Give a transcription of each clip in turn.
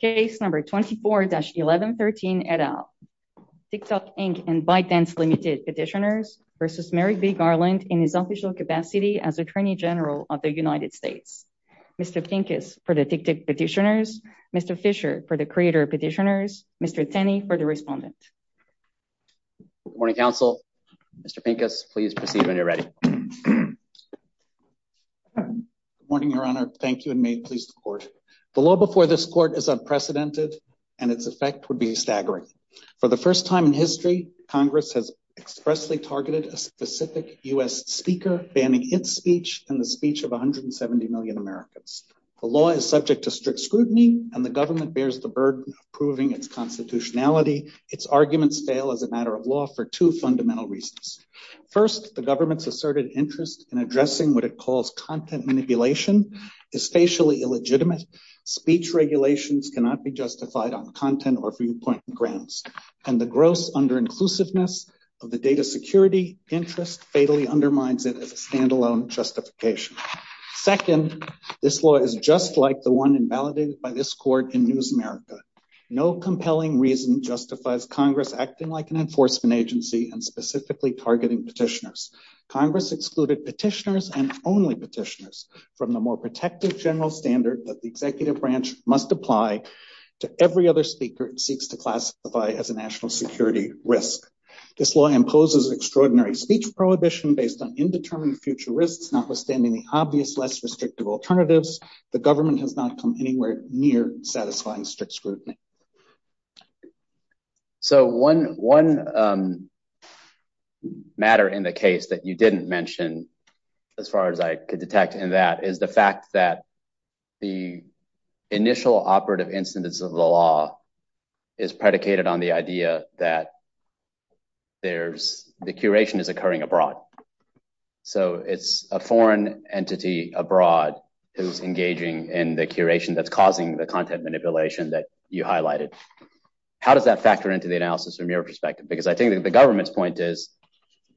Case number 24-1113 et al. Tick Tock Inc. and Bytance Ltd. Petitioners v. Merrick V. Garland in his official capacity as Attorney General of the United States. Mr. Pincus for the Tick Tick Petitioners, Mr. Fisher for the Creator Petitioners, Mr. Tenney for the Respondent. Good morning, counsel. Mr. Pincus, please proceed when you're ready. Good morning, Your Honor. Thank you, and may it please the Court. The law before this Court is unprecedented, and its effect would be staggering. For the first time in history, Congress has expressly targeted a specific U.S. speaker, banning his speech in the speech of 170 million Americans. The law is subject to strict scrutiny, and the government bears the burden of proving its constitutionality. Its arguments fail as a matter of law for two fundamental reasons. First, the government's asserted interest in addressing what it calls content manipulation is facially illegitimate. Speech regulations cannot be justified on content or viewpoint grounds. And the gross under-inclusiveness of the data security interest fatally undermines it as a standalone justification. Second, this law is just like the one invalidated by this Court in News America. No compelling reason justifies Congress acting like an enforcement agency and specifically targeting petitioners. Congress excluded petitioners and only petitioners from the more protective general standard that the executive branch must apply to every other speaker it seeks to classify as a national security risk. This law imposes extraordinary speech prohibition based on indeterminate future risks, notwithstanding the obvious less restrictive alternatives. In other words, the government has not come anywhere near satisfying strict scrutiny. So one matter in the case that you didn't mention, as far as I could detect in that, is the fact that the initial operative incidents of the law is predicated on the idea that the curation is occurring abroad. So it's a foreign entity abroad who's engaging in the curation that's causing the content manipulation that you highlighted. How does that factor into the analysis from your perspective? Because I think the government's point is,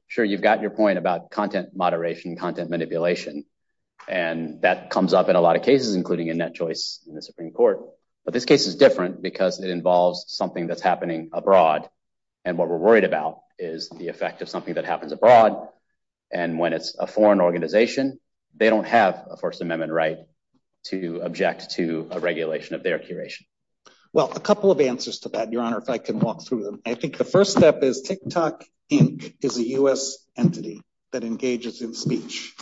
sure, you've got your point about content moderation, content manipulation. And that comes up in a lot of cases, including a net choice in the Supreme Court. But this case is different because it involves something that's happening abroad. And what we're worried about is the effect of something that happens abroad. And when it's a foreign organization, they don't have a First Amendment right to object to a regulation of their curation. Well, a couple of answers to that, Your Honor, if I can walk through them. I think the first step is TikTok Inc. is a U.S. entity that engages in speech.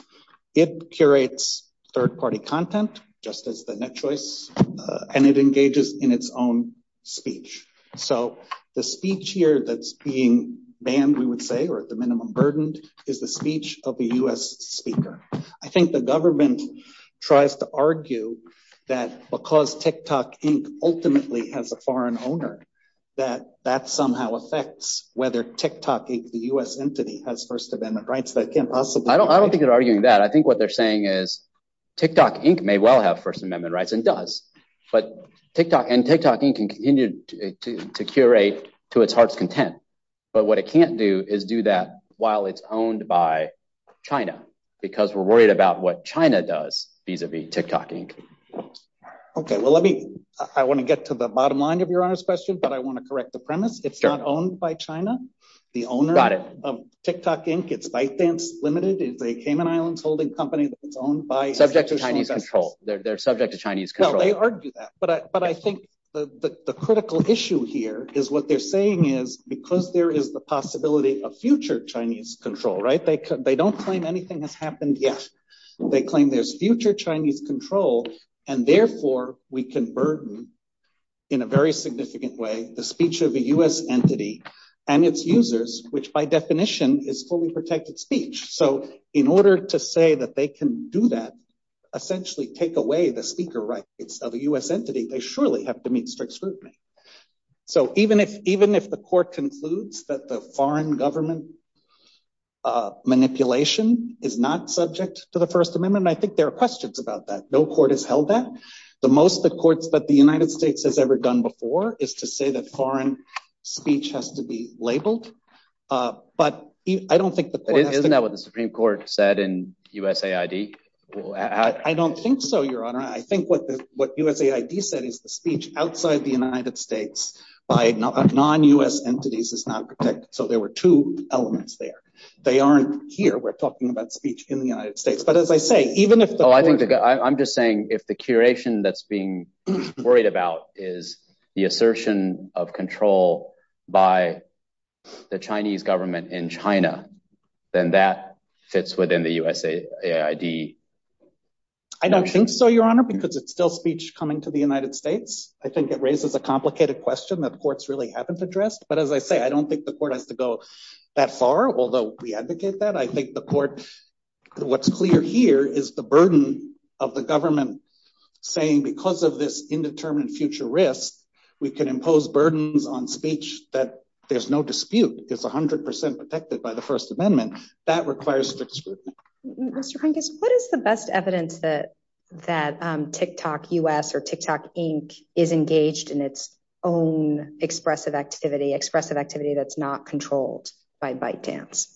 It curates third party content, just as the net choice, and it engages in its own speech. So the speech here that's being banned, we would say, or at the minimum burden, is the speech of a U.S. speaker. I think the government tries to argue that because TikTok Inc. ultimately has a foreign owner, that that somehow affects whether TikTok, the U.S. entity, has First Amendment rights. I don't think they're arguing that. I think what they're saying is TikTok Inc. may well have First Amendment rights and does. But TikTok and TikTok Inc. can continue to curate to its heart's content. But what it can't do is do that while it's owned by China, because we're worried about what China does vis-a-vis TikTok Inc. OK, well, let me I want to get to the bottom line of Your Honor's question, but I want to correct the premise. It's not owned by China. The owner of TikTok Inc., it's ByteDance Limited. It's a Cayman Islands holding company owned by China. Subject to Chinese control. They're subject to Chinese control. No, they argue that. But I think the critical issue here is what they're saying is because there is the possibility of future Chinese control, right? They don't claim anything has happened yet. They claim there's future Chinese control. And therefore, we can burden, in a very significant way, the speech of a U.S. entity and its users, which by definition is fully protected speech. So in order to say that they can do that, essentially take away the speaker rights of the U.S. entity, they surely have to meet strict scrutiny. So even if even if the court concludes that the foreign government manipulation is not subject to the First Amendment, I think there are questions about that. No court has held that. The most the courts that the United States has ever done before is to say that foreign speech has to be labeled. Isn't that what the Supreme Court said in USAID? I don't think so, Your Honor. I think what USAID said is the speech outside the United States by non-U.S. entities is not protected. So there were two elements there. They aren't here. We're talking about speech in the United States. I'm just saying if the curation that's being worried about is the assertion of control by the Chinese government in China, then that fits within the USAID. I don't think so, Your Honor, because it's still speech coming to the United States. I think it raises a complicated question that courts really haven't addressed. But as I say, I don't think the court has to go that far, although we advocate that. I think the court what's clear here is the burden of the government saying because of this indeterminate future risk, we can impose burdens on speech. But there's no dispute. It's 100 percent protected by the First Amendment. What is the best evidence that TikTok U.S. or TikTok Inc. is engaged in its own expressive activity, expressive activity that's not controlled by ByteDance?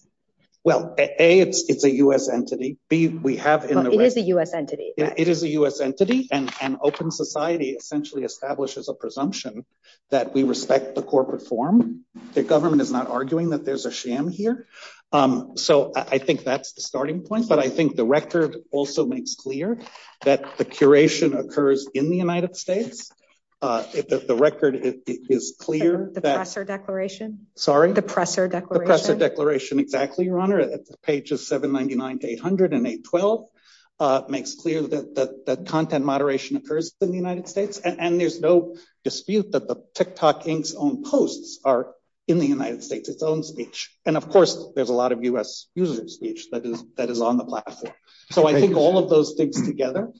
Well, A, it's a U.S. entity. It is a U.S. entity. It is a U.S. entity, and open society essentially establishes a presumption that we respect the corporate form. The government is not arguing that there's a sham here. So I think that's the starting point. But I think the record also makes clear that the curation occurs in the United States. The record is clear. The presser declaration. Sorry? The presser declaration. The presser declaration, exactly, Your Honor. Page 799 to 800 and 812 makes clear that content moderation occurs in the United States. And there's no dispute that the TikTok Inc.'s own posts are in the United States, its own speech. And, of course, there's a lot of U.S. user speech that is on the platform. So I think all of those things together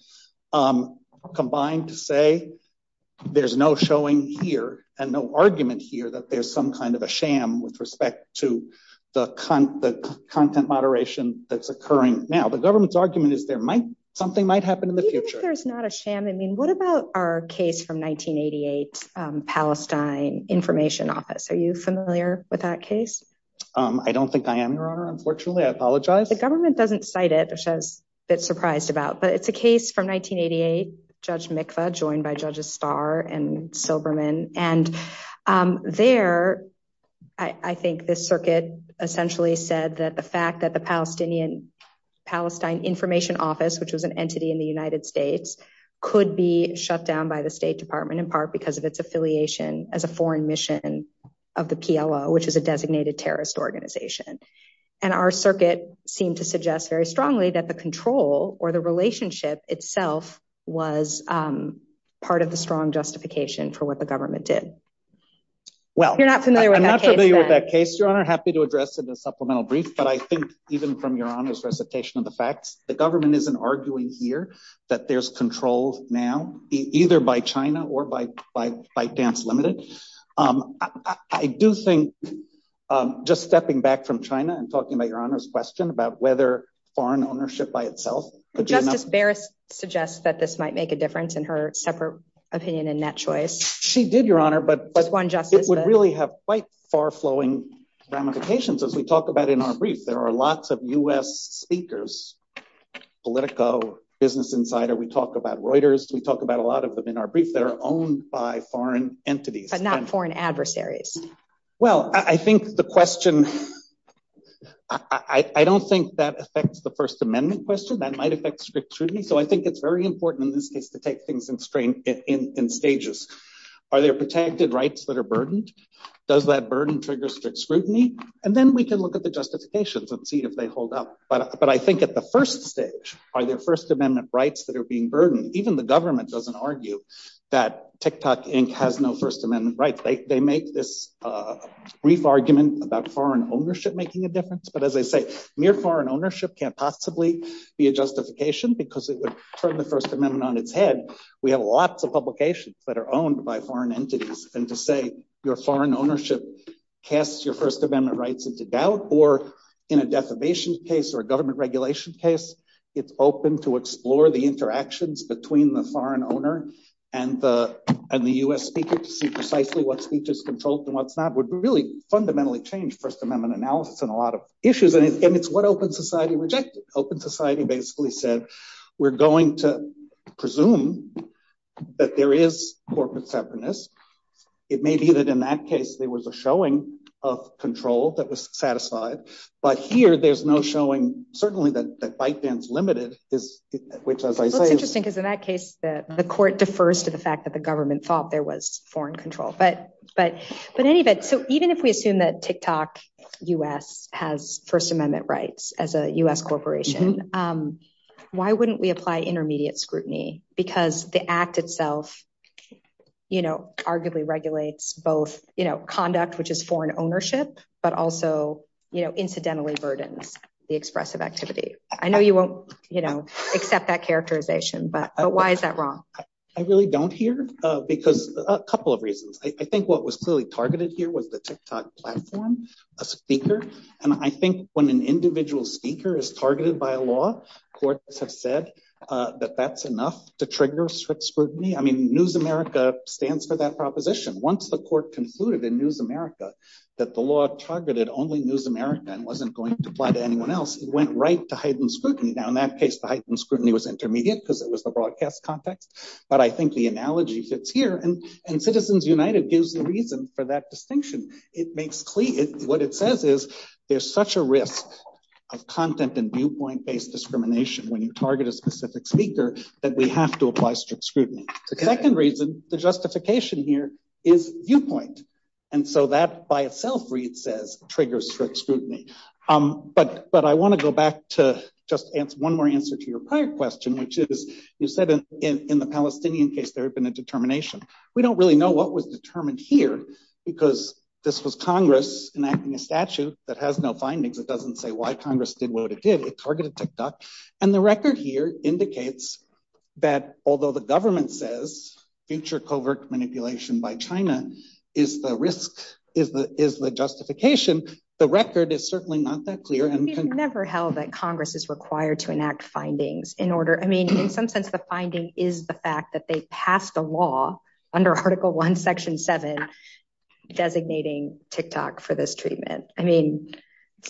combine to say there's no showing here and no argument here that there's some kind of a sham with respect to the content moderation that's occurring now. The government's argument is something might happen in the future. Do you think there's not a sham? I mean, what about our case from 1988, Palestine Information Office? Are you familiar with that case? I don't think I am, Your Honor, unfortunately. I apologize. The government doesn't cite it, which I was a bit surprised about. But it's a case from 1988, Judge Mikva, joined by Judges Starr and Silberman. And there, I think this circuit essentially said that the fact that the Palestinian Palestine Information Office, which was an entity in the United States, could be shut down by the State Department, in part because of its affiliation as a foreign mission of the PLO, which is a designated terrorist organization. And our circuit seemed to suggest very strongly that the control or the relationship itself was part of a strong justification for what the government did. Well, I'm not familiar with that case, Your Honor. I'm happy to address it in a supplemental brief. But I think even from Your Honor's recitation of the facts, the government isn't arguing here that there's control now, either by China or by Dams Limited. I do think, just stepping back from China and talking about Your Honor's question about whether foreign ownership by itself. Justice Barrett suggests that this might make a difference in her separate opinion in that choice. She did, Your Honor, but it would really have quite far-flowing ramifications. As we talk about in our brief, there are lots of U.S. speakers, Politico, Business Insider. We talk about Reuters. We talk about a lot of them in our brief that are owned by foreign entities. But not foreign adversaries. Well, I think the question, I don't think that affects the First Amendment question. That might affect strict scrutiny. So I think it's very important in this case to take things in stages. Are there protected rights that are burdened? Does that burden trigger strict scrutiny? And then we can look at the justifications and see if they hold up. But I think at the first stage, are there First Amendment rights that are being burdened? Even the government doesn't argue that TikTok Inc. has no First Amendment rights. They make this brief argument about foreign ownership making a difference. But as I say, mere foreign ownership can't possibly be a justification because it would turn the First Amendment on its head. We have lots of publications that are owned by foreign entities. And to say your foreign ownership casts your First Amendment rights into doubt or in a defamation case or a government regulation case, it's open to explore the interactions between the foreign owner and the U.S. speaker to see precisely what speech is consulted and what's not, would really fundamentally change First Amendment analysis on a lot of issues. And it's what open society rejected. Open society basically said, we're going to presume that there is corporate tepidness. It may be that in that case, there was a showing of control that was satisfied. But here, there's no showing. Certainly, the fight is limited, which is interesting, because in that case, the court defers to the fact that the government thought there was foreign control. So even if we assume that TikTok U.S. has First Amendment rights as a U.S. corporation, why wouldn't we apply intermediate scrutiny because the act itself arguably regulates both conduct, which is foreign ownership, but also incidentally burdens the expressive activity? I know you won't accept that characterization, but why is that wrong? I really don't hear, because a couple of reasons. I think what was clearly targeted here was the TikTok platform, a speaker. And I think when an individual speaker is targeted by law, courts have said that that's enough to trigger strict scrutiny. I mean, News America stands for that proposition. Once the court concluded in News America that the law targeted only News America and wasn't going to apply to anyone else, it went right to heightened scrutiny. Now, in that case, the heightened scrutiny was intermediate because it was the broadcast context. But I think the analogy fits here, and Citizens United gives the reason for that distinction. What it says is there's such a risk of content and viewpoint-based discrimination when you target a specific speaker that we have to apply strict scrutiny. The second reason, the justification here is viewpoint. And so that by itself, Reid says, triggers strict scrutiny. But I want to go back to just one more answer to your prior question, which is you said in the Palestinian case there had been a determination. We don't really know what was determined here, because this was Congress enacting a statute that has no findings. It doesn't say why Congress did what it did. It targeted TikTok. And the record here indicates that although the government says feature covert manipulation by China is the risk, is the justification, the record is certainly not that clear. It's never held that Congress is required to enact findings. I mean, in some sense, the finding is the fact that they passed a law under Article I, Section 7, designating TikTok for this treatment. I mean,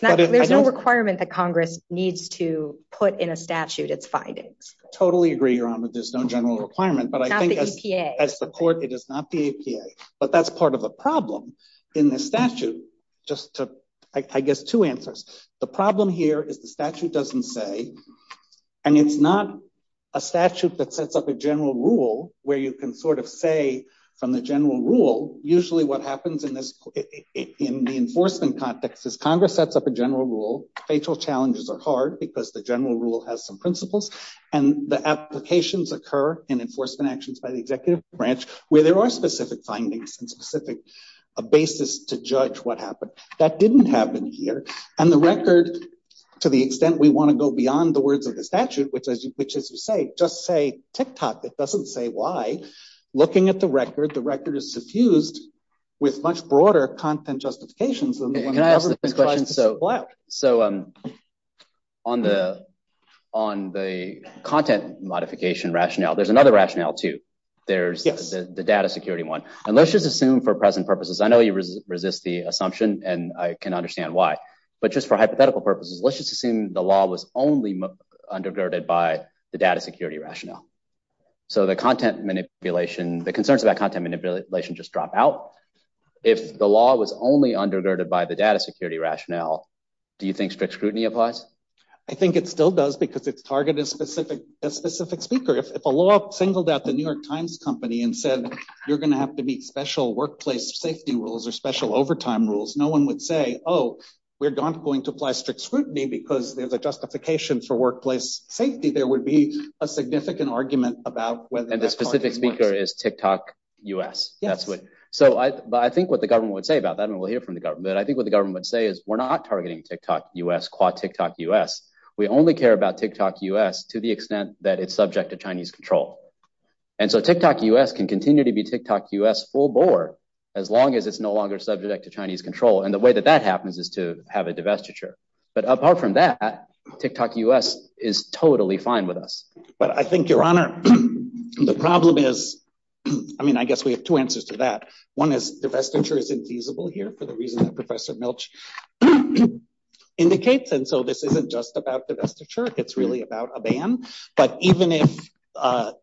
there's no requirement that Congress needs to put in a statute its findings. Totally agree, Rama. There's no general requirement. It's not the EPA. As the court, it is not the EPA. But that's part of a problem in the statute. Just to, I guess, two answers. The problem here is the statute doesn't say, and it's not a statute that sets up a general rule where you can sort of say from the general rule, usually what happens in the enforcement context is Congress sets up a general rule. Facial challenges are hard because the general rule has some principles. And the applications occur in enforcement actions by the executive branch where there are specific findings and specific basis to judge what happened. That didn't happen here. And the record, to the extent we want to go beyond the words of the statute, which is to say, just say TikTok. It doesn't say why. Looking at the record, the record is suffused with much broader content justifications. Can I ask a question? Go ahead. So on the content modification rationale, there's another rationale, too. There's the data security one. And let's just assume for present purposes, I know you resist the assumption and I can understand why. But just for hypothetical purposes, let's just assume the law was only undergirded by the data security rationale. So the content manipulation, the concerns about content manipulation just drop out. If the law was only undergirded by the data security rationale, do you think strict scrutiny applies? I think it still does because it's targeted to a specific speaker. If a law singled out the New York Times company and said you're going to have to meet special workplace safety rules or special overtime rules, no one would say, oh, we're not going to apply strict scrutiny because there's a justification for workplace safety. There would be a significant argument about whether the specific speaker is TikTok U.S. So I think what the government would say about that, and we'll hear from the government, I think what the government would say is we're not targeting TikTok U.S. We only care about TikTok U.S. to the extent that it's subject to Chinese control. And so TikTok U.S. can continue to be TikTok U.S. full bore as long as it's no longer subject to Chinese control. And the way that that happens is to have a divestiture. But apart from that, TikTok U.S. is totally fine with us. But I think, Your Honor, the problem is, I mean, I guess we have two answers to that. One is divestiture is infeasible here for the reasons Professor Milch indicates. And so this isn't just about divestiture. It's really about a ban. But even if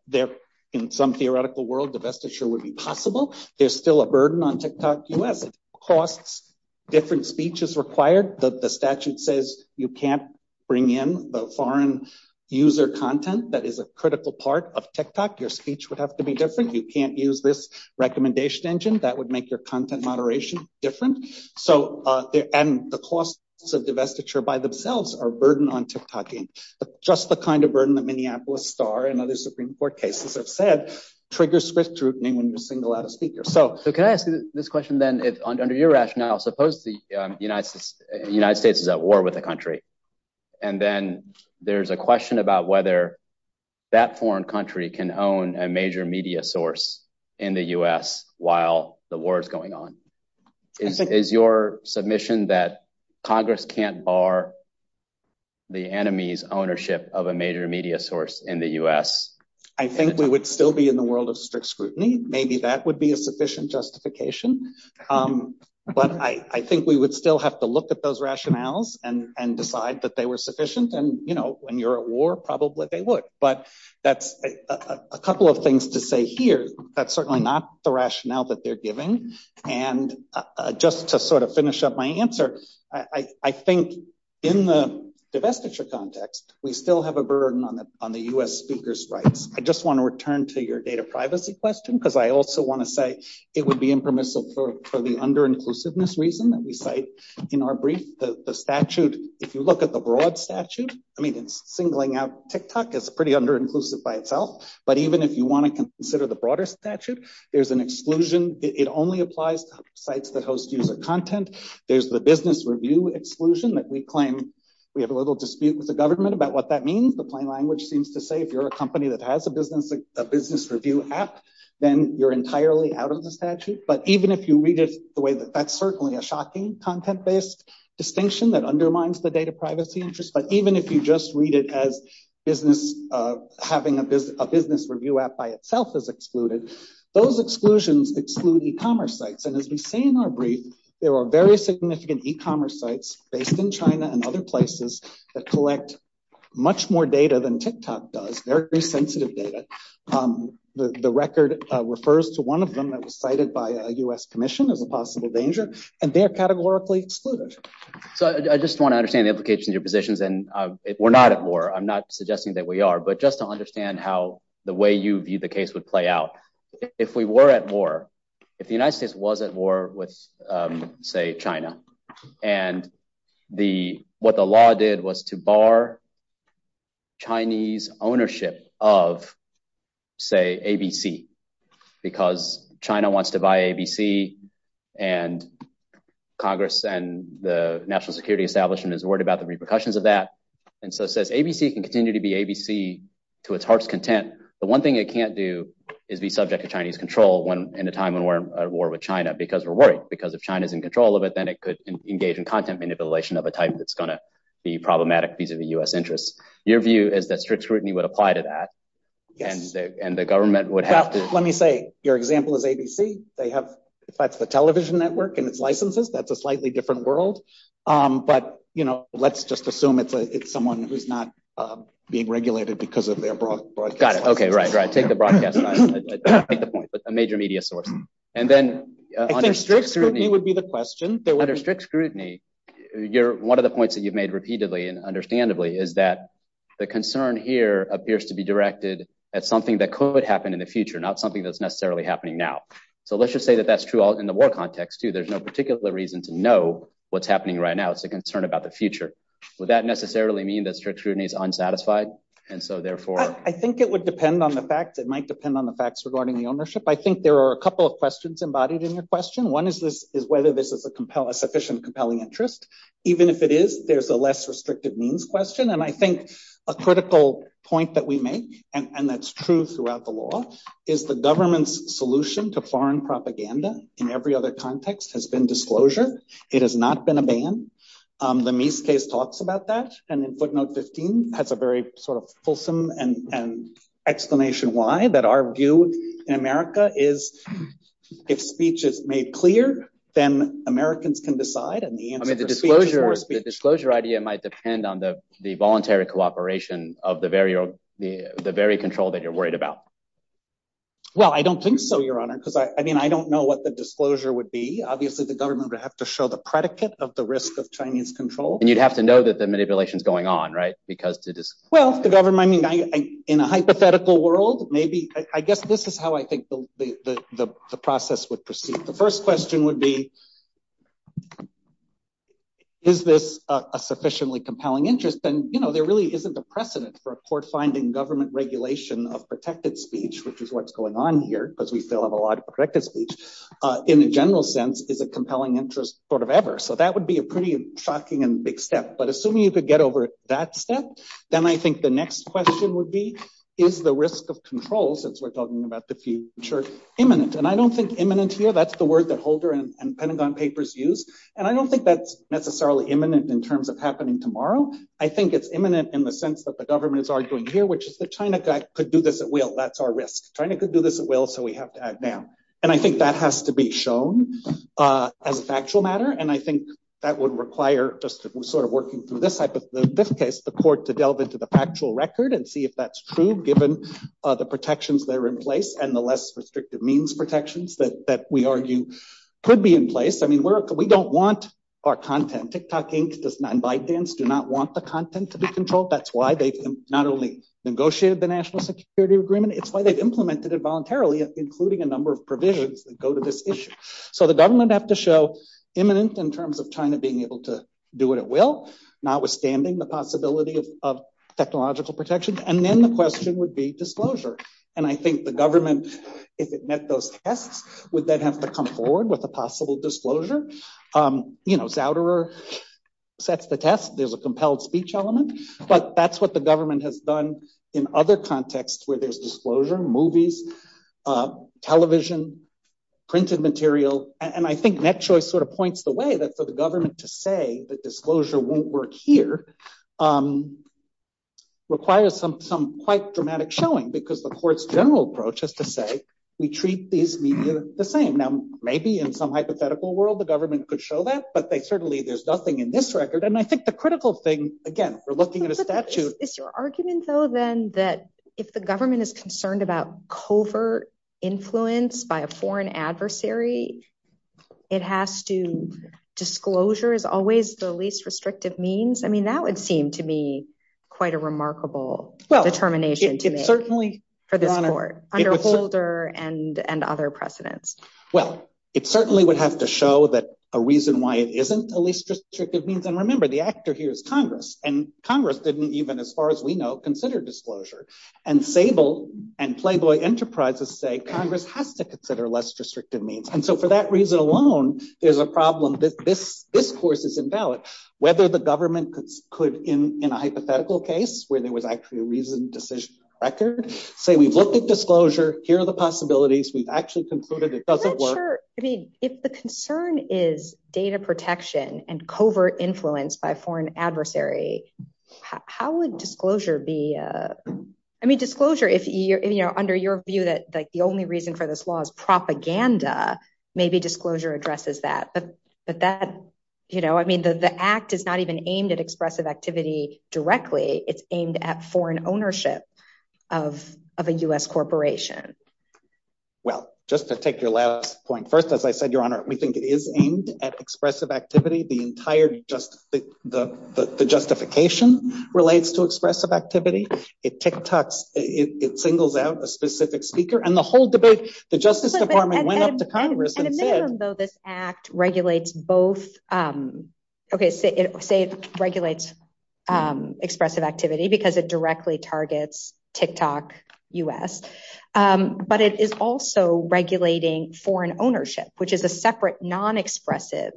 there in some theoretical world, divestiture would be possible, there's still a burden on TikTok U.S. The costs, different speech is required. The statute says you can't bring in the foreign user content. That is a critical part of TikTok. Your speech would have to be different. You can't use this recommendation engine. That would make your content moderation different. So and the costs of divestiture by themselves are a burden on TikTok U.S. But just the kind of burden that Minneapolis Star and other Supreme Court cases have said triggers swift scrutiny when you single out a speaker. So can I ask you this question then, under your rationale, suppose the United States is at war with a country. And then there's a question about whether that foreign country can own a major media source in the U.S. while the war is going on. Is your submission that Congress can't bar the enemy's ownership of a major media source in the U.S.? I think we would still be in the world of strict scrutiny. Maybe that would be a sufficient justification. But I think we would still have to look at those rationales and decide that they were sufficient. And, you know, when you're at war, probably they would. But that's a couple of things to say here. That's certainly not the rationale that they're giving. And just to sort of finish up my answer, I think in the divestiture context, we still have a burden on the U.S. speaker's rights. I just want to return to your data privacy question, because I also want to say it would be impermissible for the under-inclusiveness reason that we cite in our brief. The statute, if you look at the broad statute, I mean, singling out TikTok is pretty under-inclusive by itself. But even if you want to consider the broader statute, there's an exclusion. It only applies to sites that host user content. There's the business review exclusion that we claim we have a little dispute with the government about what that means. But my language seems to say if you're a company that has a business review app, then you're entirely out of the statute. But even if you read it the way that that's certainly a shocking content-based distinction that undermines the data privacy interest. But even if you just read it as having a business review app by itself is excluded, those exclusions exclude e-commerce sites. And as you say in our brief, there are very significant e-commerce sites based in China and other places that collect much more data than TikTok does. They're very sensitive data. The record refers to one of them that was cited by a U.S. commission as a possible danger. And they are categorically excluded. So I just want to understand the implications of your positions. And we're not at war. I'm not suggesting that we are. But just to understand how the way you view the case would play out. If we were at war, if the United States was at war with, say, China and what the law did was to bar Chinese ownership of, say, ABC. Because China wants to buy ABC and Congress and the national security establishment is worried about the repercussions of that. And so it says ABC can continue to be ABC to its heart's content. The one thing it can't do is be subject to Chinese control in a time when we're at war with China because we're worried. Because if China is in control of it, then it could engage in content manipulation of a type that's going to be problematic vis-a-vis U.S. interests. Your view is that strict scrutiny would apply to that and the government would have to. Let me say your example is ABC. They have the television network and its licenses. That's a slightly different world. But, you know, let's just assume it's someone who's not being regulated because of their. Got it. OK. Right. Right. Take the broadcast. Take the point. A major media source. And then strict scrutiny would be the question. Under strict scrutiny, one of the points that you've made repeatedly and understandably is that the concern here appears to be directed at something that could happen in the future, not something that's necessarily happening now. So let's just say that that's true in the war context, too. There's no particular reason to know what's happening right now. That's a concern about the future. Would that necessarily mean that strict scrutiny is unsatisfied? And so, therefore, I think it would depend on the fact that might depend on the facts regarding the ownership. I think there are a couple of questions embodied in your question. One is whether this is a compelling, sufficient, compelling interest. Even if it is, there's a less restrictive means question. And I think a critical point that we make, and that's true throughout the law, is the government's solution to foreign propaganda in every other context has been disclosure. It has not been a ban. The Mies case talks about that. And in footnote 15, that's a very sort of fulsome and explanation why, that our view in America is if speech is made clear, then Americans can decide. I mean, the disclosure idea might depend on the voluntary cooperation of the very control that you're worried about. Well, I don't think so, Your Honor, because I mean, I don't know what the disclosure would be. Obviously, the government would have to show the predicate of the risk of Chinese control. And you'd have to know that the manipulation is going on, right? Because it is. Well, the government, I mean, in a hypothetical world, maybe I guess this is how I think the process would proceed. The first question would be, is this a sufficiently compelling interest? And, you know, there really isn't a precedent for a court finding government regulation of protected speech, which is what's going on here, because we still have a lot of protected speech, in a general sense, is a compelling interest sort of ever. So that would be a pretty shocking and big step. But assuming you could get over that step, then I think the next question would be, is the risk of control, since we're talking about the future, imminent? And I don't think imminent here, that's the word that Holder and Pentagon papers use. And I don't think that's necessarily imminent in terms of happening tomorrow. I think it's imminent in the sense that the government is arguing here, which is that China could do this at will. That's our risk. China could do this at will, so we have to act now. And I think that has to be shown as a factual matter. And I think that would require just sort of working through this case, the court to delve into the factual record and see if that's true, given the protections that are in place and the less restrictive means protections that we argue could be in place. I mean, we don't want our content. TikTok Inc. and ByteDance do not want the content to be controlled. That's why they not only negotiated the national security agreement, it's why they implemented it voluntarily, including a number of provisions that go to this issue. So the government has to show imminence in terms of China being able to do what it will, notwithstanding the possibility of technological protections. And then the question would be disclosure. And I think the government, if it met those tests, would then have to come forward with a possible disclosure. You know, Zouderer sets the test. There's a compelled speech element. But that's what the government has done in other contexts where there's disclosure, movies, television, printed material. And I think NetChoice sort of points the way that for the government to say that disclosure won't work here requires some quite dramatic showing, because the court's general approach is to say, we treat these media the same. Now, maybe in some hypothetical world, the government could show that, but certainly there's nothing in this record. And I think the critical thing, again, we're looking at a statute. Is your argument, though, then that if the government is concerned about covert influence by a foreign adversary, it has to disclosure is always the least restrictive means? I mean, that would seem to me quite a remarkable determination to make for the court under Zouderer and other precedents. Well, it certainly would have to show that a reason why it isn't a least restrictive means. And remember, the actor here is Congress, and Congress didn't even, as far as we know, consider disclosure. And Sable and Playboy Enterprises say Congress has to consider less restrictive means. And so for that reason alone, there's a problem that this discourse is invalid. Whether the government could, in a hypothetical case where there was actually a reason to say we looked at disclosure, here are the possibilities. We've actually concluded it doesn't work. If the concern is data protection and covert influence by foreign adversary, how would disclosure be? I mean, disclosure, if you're under your view that the only reason for this law is propaganda, maybe disclosure addresses that. But that, you know, I mean, the act is not even aimed at expressive activity directly. It's aimed at foreign ownership of a U.S. corporation. Well, just to take your last point, first, as I said, Your Honor, we think it is aimed at expressive activity. The entire justification relates to expressive activity. It tick tocks. It singles out a specific speaker. And the whole debate, the Justice Department went up to Congress. Though this act regulates both states, it regulates expressive activity because it directly targets tick tock U.S. But it is also regulating foreign ownership, which is a separate non-expressive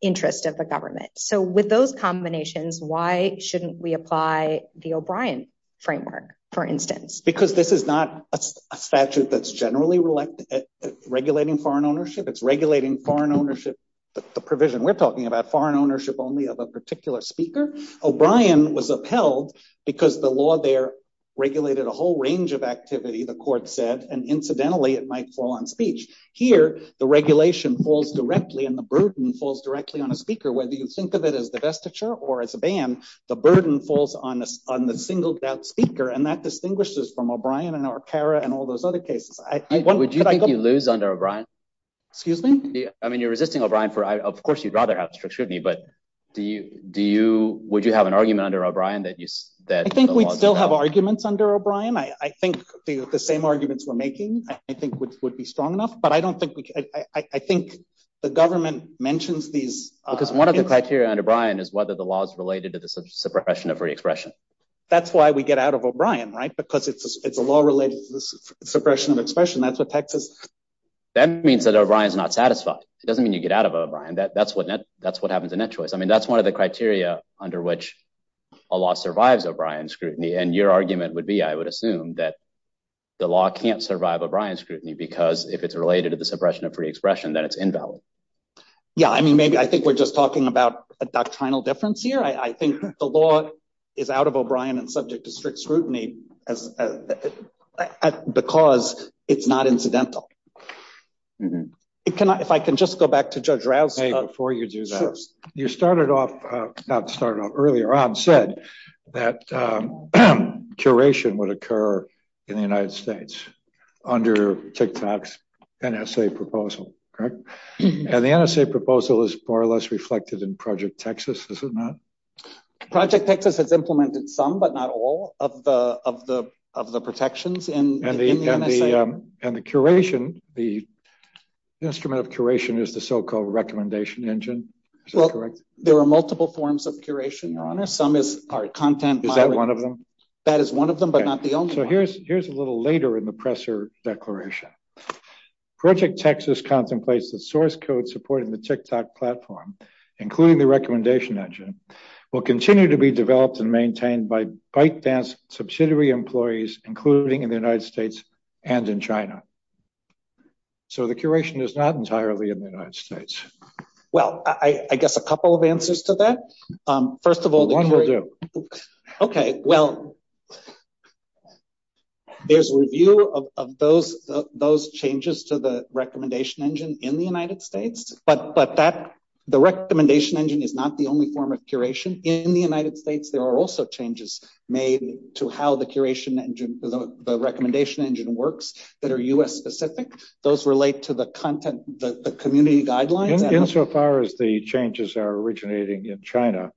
interest of the government. So with those combinations, why shouldn't we apply the O'Brien framework, for instance? Because this is not a statute that's generally regulated foreign ownership. It's regulating foreign ownership, the provision we're talking about, foreign ownership only of a particular speaker. O'Brien was upheld because the law there regulated a whole range of activity, the court said. And incidentally, it might fall on speech. Here, the regulation falls directly and the burden falls directly on the speaker, whether you think of it as the vestiture or as a ban. And the burden falls on the single deaf speaker. And that distinguishes from O'Brien and O'Carra and all those other cases. Would you think you lose under O'Brien? Excuse me? I mean, you're resisting O'Brien. Of course, you'd rather have strict scrutiny. But do you – would you have an argument under O'Brien that you – I think we still have arguments under O'Brien. I think the same arguments we're making, I think, would be strong enough. But I don't think – I think the government mentions these – Well, because one of the criteria under O'Brien is whether the law is related to the suppression of free expression. That's why we get out of O'Brien, right, because it's a law related to suppression of expression. That means that O'Brien is not satisfied. It doesn't mean you get out of O'Brien. That's what happens in Net Choice. I mean, that's one of the criteria under which a law survives O'Brien scrutiny. And your argument would be, I would assume, that the law can't survive O'Brien scrutiny because if it's related to the suppression of free expression, then it's invalid. Yeah, I mean, maybe I think we're just talking about a doctrinal difference here. I think the law is out of O'Brien and subject to strict scrutiny because it's not incidental. If I can just go back to Judge Rouse before you do that. You started off – not started off – earlier on said that curation would occur in the United States under TICTAC's NSA proposal, correct? And the NSA proposal is more or less reflected in Project Texas, isn't it? Project Texas has implemented some but not all of the protections in the NSA. And the curation, the instrument of curation is the so-called recommendation engine. There are multiple forms of curation, Your Honor. Is that one of them? That is one of them but not the only one. So here's a little later in the Presser Declaration. Project Texas contemplates that source code supporting the TICTAC platform, including the recommendation engine, will continue to be developed and maintained by bite-dense subsidiary employees, including in the United States and in China. So the curation is not entirely in the United States. Well, I guess a couple of answers to that. First of all – One will do. Okay. Well, here's a review of those changes to the recommendation engine in the United States. But that – the recommendation engine is not the only form of curation. In the United States, there are also changes made to how the curation engine – the recommendation engine works that are U.S.-specific. Those relate to the content – the community guidelines. Insofar as the changes are originating in China,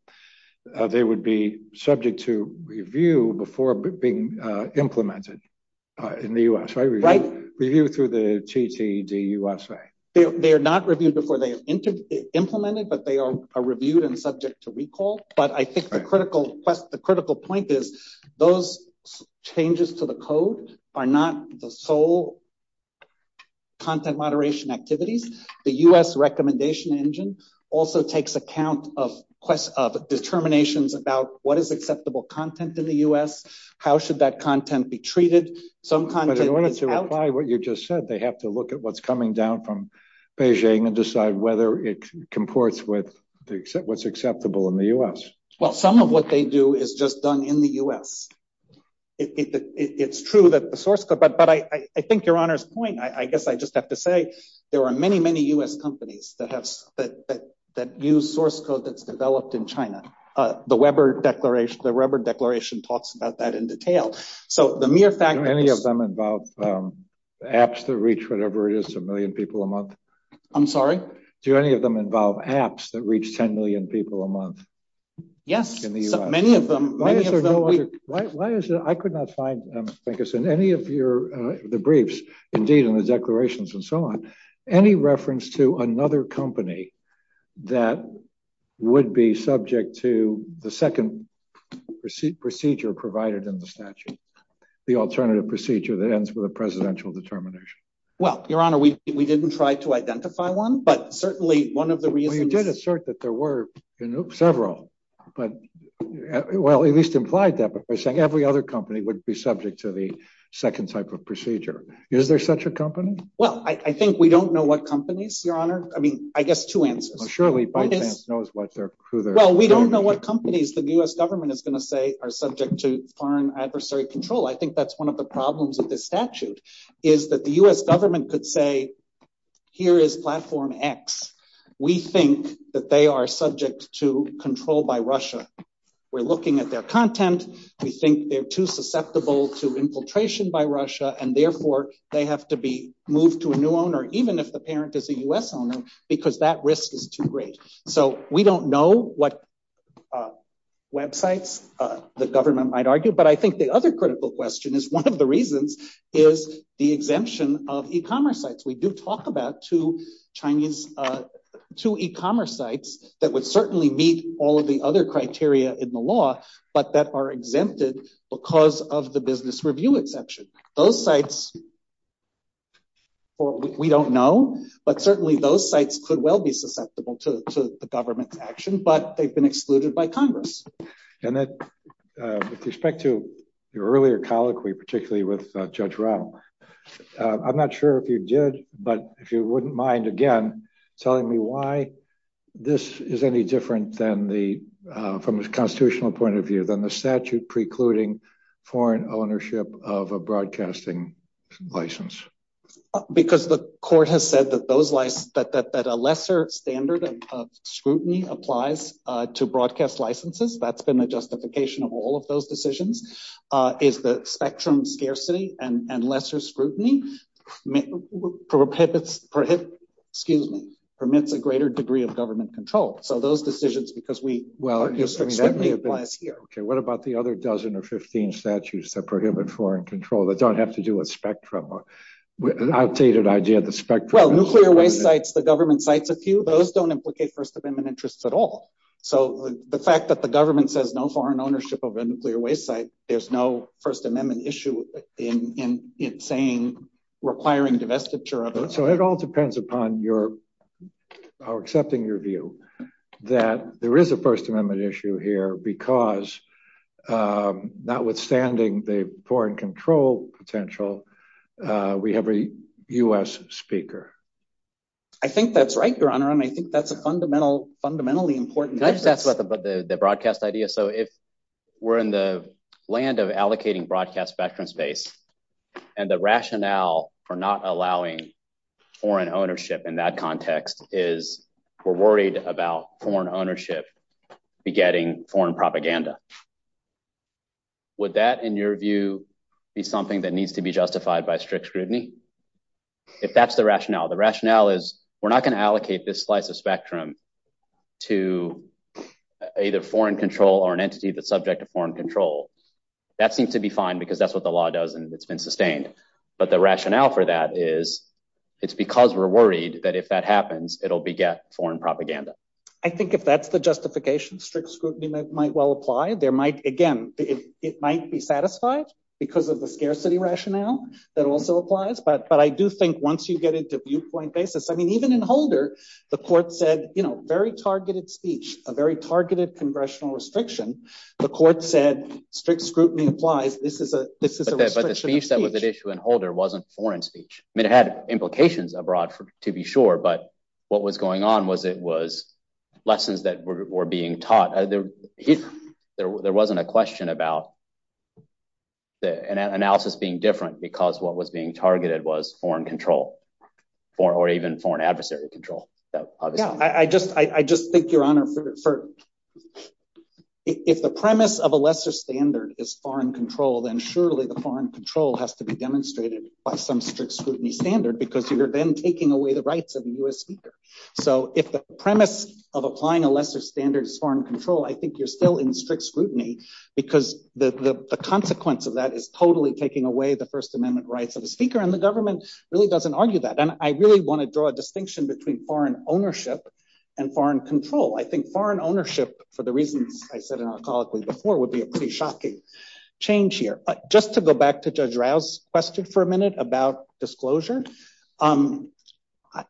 they would be subject to review before being implemented in the U.S. Right. Review through the TTD USA. They are not reviewed before they are implemented, but they are reviewed and subject to recall. But I think the critical point is those changes to the code are not the sole content moderation activities. The U.S. recommendation engine also takes account of determinations about what is acceptable content in the U.S., how should that content be treated. Some content – But in order to apply what you just said, they have to look at what's coming down from Beijing and decide whether it comports with what's acceptable in the U.S. Well, some of what they do is just done in the U.S. It's true that the source code – but I think Your Honor's point, I guess I just have to say there are many, many U.S. companies that use source code that's developed in China. The Weber Declaration talks about that in detail. So the mere fact – Do any of them involve apps that reach whatever it is, a million people a month? I'm sorry? Do any of them involve apps that reach 10 million people a month? Yes. In the U.S. Many of them – Why is there no other – I could not find, I guess, in any of the briefs, indeed in the declarations and so on, any reference to another company that would be subject to the second procedure provided in the statute, the alternative procedure that ends with a presidential determination. Well, Your Honor, we didn't try to identify one, but certainly one of the reasons – Well, you did assert that there were several, but – well, at least implied that by saying every other company would be subject to the second type of procedure. Is there such a company? Well, I think we don't know what companies, Your Honor. I mean, I guess two answers. Well, surely both hands knows what they're – who they're – Well, we don't know what companies the U.S. government is going to say are subject to foreign adversary control. I think that's one of the problems with this statute, is that the U.S. government could say, here is platform X. We think that they are subject to control by Russia. We're looking at their content. We think they're too susceptible to infiltration by Russia, and therefore they have to be moved to a new owner, even if the parent is a U.S. owner, because that risk is too great. So we don't know what websites the government might argue, but I think the other critical question is one of the reasons is the exemption of e-commerce sites. We do talk about two Chinese – two e-commerce sites that would certainly meet all of the other criteria in the law, but that are exempted because of the business review exception. Those sites, we don't know, but certainly those sites could well be susceptible to government action, but they've been excluded by Congress. And with respect to your earlier colloquy, particularly with Judge Rattler, I'm not sure if you did, but if you wouldn't mind, again, telling me why this is any different than the – from a constitutional point of view, than the statute precluding foreign ownership of a broadcasting license. Because the court has said that those – that a lesser standard of scrutiny applies to broadcast licenses. That's been a justification of all of those decisions, is that spectrum scarcity and lesser scrutiny permits a greater degree of government control. So those decisions, because we – well, I guess scrutiny applies here. Okay, what about the other dozen or 15 statutes that prohibit foreign control that don't have to do with spectrum? An outdated idea of the spectrum. Well, nuclear waste sites, the government cites a few. Those don't implicate First Amendment interests at all. So the fact that the government says no foreign ownership of a nuclear waste site, there's no First Amendment issue in saying requiring divestiture of it. So it all depends upon your – or accepting your view that there is a First Amendment issue here because notwithstanding the foreign control potential, we have a U.S. speaker. I think that's right, Your Honor. I mean, I think that's a fundamentally important issue. Can I just ask about the broadcast idea? So if we're in the land of allocating broadcast spectrum space, and the rationale for not allowing foreign ownership in that context is we're worried about foreign ownership begetting foreign propaganda, would that, in your view, be something that needs to be justified by strict scrutiny? If that's the rationale. The rationale is we're not going to allocate this slice of spectrum to either foreign control or an entity that's subject to foreign control. That seems to be fine because that's what the law does, and it's been sustained. But the rationale for that is it's because we're worried that if that happens, it'll beget foreign propaganda. I think if that's the justification, strict scrutiny might well apply. There might – again, it might be satisfied because of the scarcity rationale that also applies. But I do think once you get into viewpoint basis – I mean, even in Holder, the court said very targeted speech, a very targeted congressional restriction. The court said strict scrutiny implies this is a restriction of speech. But the speech that was at issue in Holder wasn't a foreign speech. I mean, it had implications abroad to be sure, but what was going on was it was lessons that were being taught. There wasn't a question about the analysis being different because what was being targeted was foreign control or even foreign adversary control. I just think, Your Honor, if the premise of a lesser standard is foreign control, then surely the foreign control has to be demonstrated by some strict scrutiny standard because you're then taking away the rights of the U.S. speaker. So if the premise of applying a lesser standard is foreign control, I think you're still in strict scrutiny because the consequence of that is totally taking away the First Amendment rights of the speaker, and the government really doesn't argue that. And I really want to draw a distinction between foreign ownership and foreign control. I think foreign ownership, for the reasons I said in our colloquy before, would be a pretty shocking change here. But just to go back to Judge Rouse's question for a minute about disclosure, I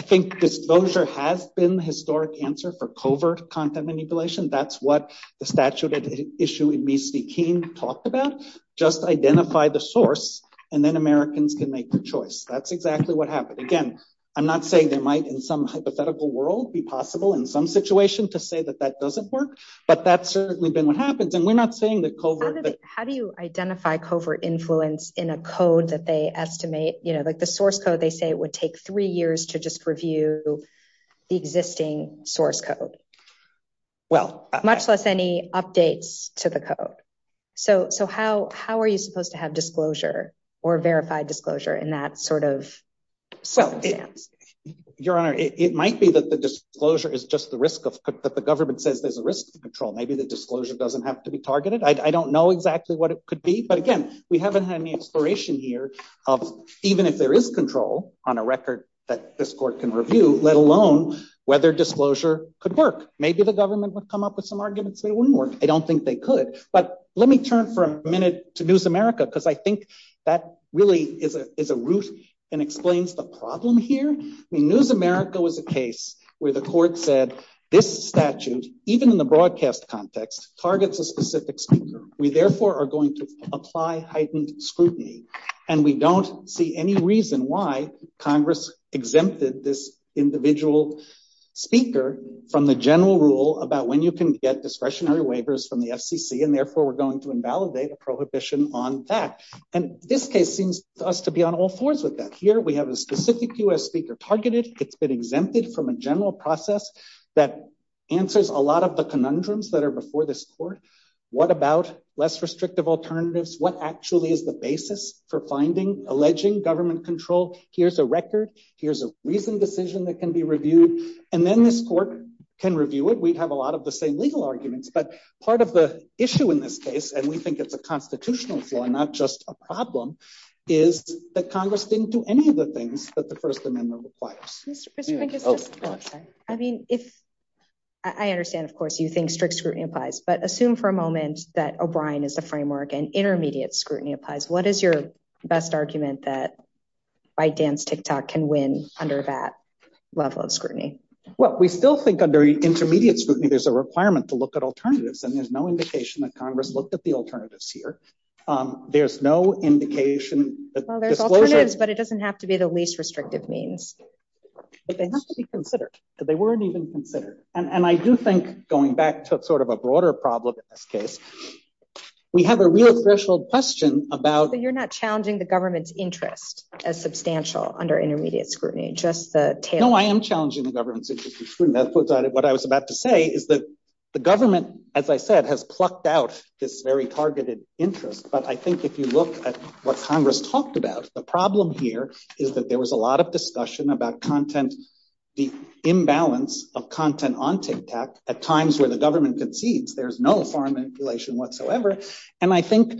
think disclosure has been the historic answer for covert content manipulation. That's what the statute issue in Reese v. King talked about. Just identify the source, and then Americans can make their choice. That's exactly what happened. Again, I'm not saying it might in some hypothetical world be possible in some situations to say that that doesn't work, but that's certainly been what happens. And we're not saying that covert— How do you identify covert influence in a code that they estimate—like the source code they say it would take three years to just review the existing source code? Well— Much less any updates to the code. So how are you supposed to have disclosure or verified disclosure in that sort of— Well, Your Honor, it might be that the disclosure is just the risk, but the government says there's a risk of control. Maybe the disclosure doesn't have to be targeted. I don't know exactly what it could be. But again, we haven't had any exploration here of even if there is control on a record that this court can review, let alone whether disclosure could work. Maybe the government would come up with some arguments that it wouldn't work. I don't think they could. But let me turn for a minute to News America, because I think that really is a ruse and explains the problem here. News America was a case where the court said this statute, even in the broadcast context, targets a specific speaker. We therefore are going to apply heightened scrutiny. And we don't see any reason why Congress exempted this individual speaker from the general rule about when you can get discretionary waivers from the FCC. And therefore, we're going to invalidate a prohibition on that. And this case seems to us to be on all fours with that. Here we have a specific U.S. speaker targeted. It's been exempted from a general process that answers a lot of the conundrums that are before this court. What about less restrictive alternatives? What actually is the basis for finding, alleging government control? Here's a record. Here's a reasoned decision that can be reviewed. And then this court can review it. We have a lot of the same legal arguments. But part of the issue in this case, and we think it's a constitutional flaw, not just a problem, is that Congress didn't do any of the things that the First Amendment requires. I mean, I understand, of course, you think strict scrutiny applies. But assume for a moment that O'Brien is a framework and intermediate scrutiny applies. What is your best argument that ByteDance, TikTok can win under that level of scrutiny? Well, we still think under intermediate scrutiny there's a requirement to look at alternatives. And there's no indication that Congress looked at the alternatives here. There's no indication. Well, there's alternatives, but it doesn't have to be the least restrictive means. But they have to be considered. So they weren't even considered. And I do think, going back to sort of a broader problem in this case, we have a real threshold question about. So you're not challenging the government's interest as substantial under intermediate scrutiny, just the tail? No, I am challenging the government's interest. That's what I was about to say, is that the government, as I said, has plucked out this very targeted interest. But I think if you look at what Congress talked about, the problem here is that there was a lot of discussion about content imbalance of content on TikTok at times where the government concedes there's no foreign manipulation whatsoever. And I think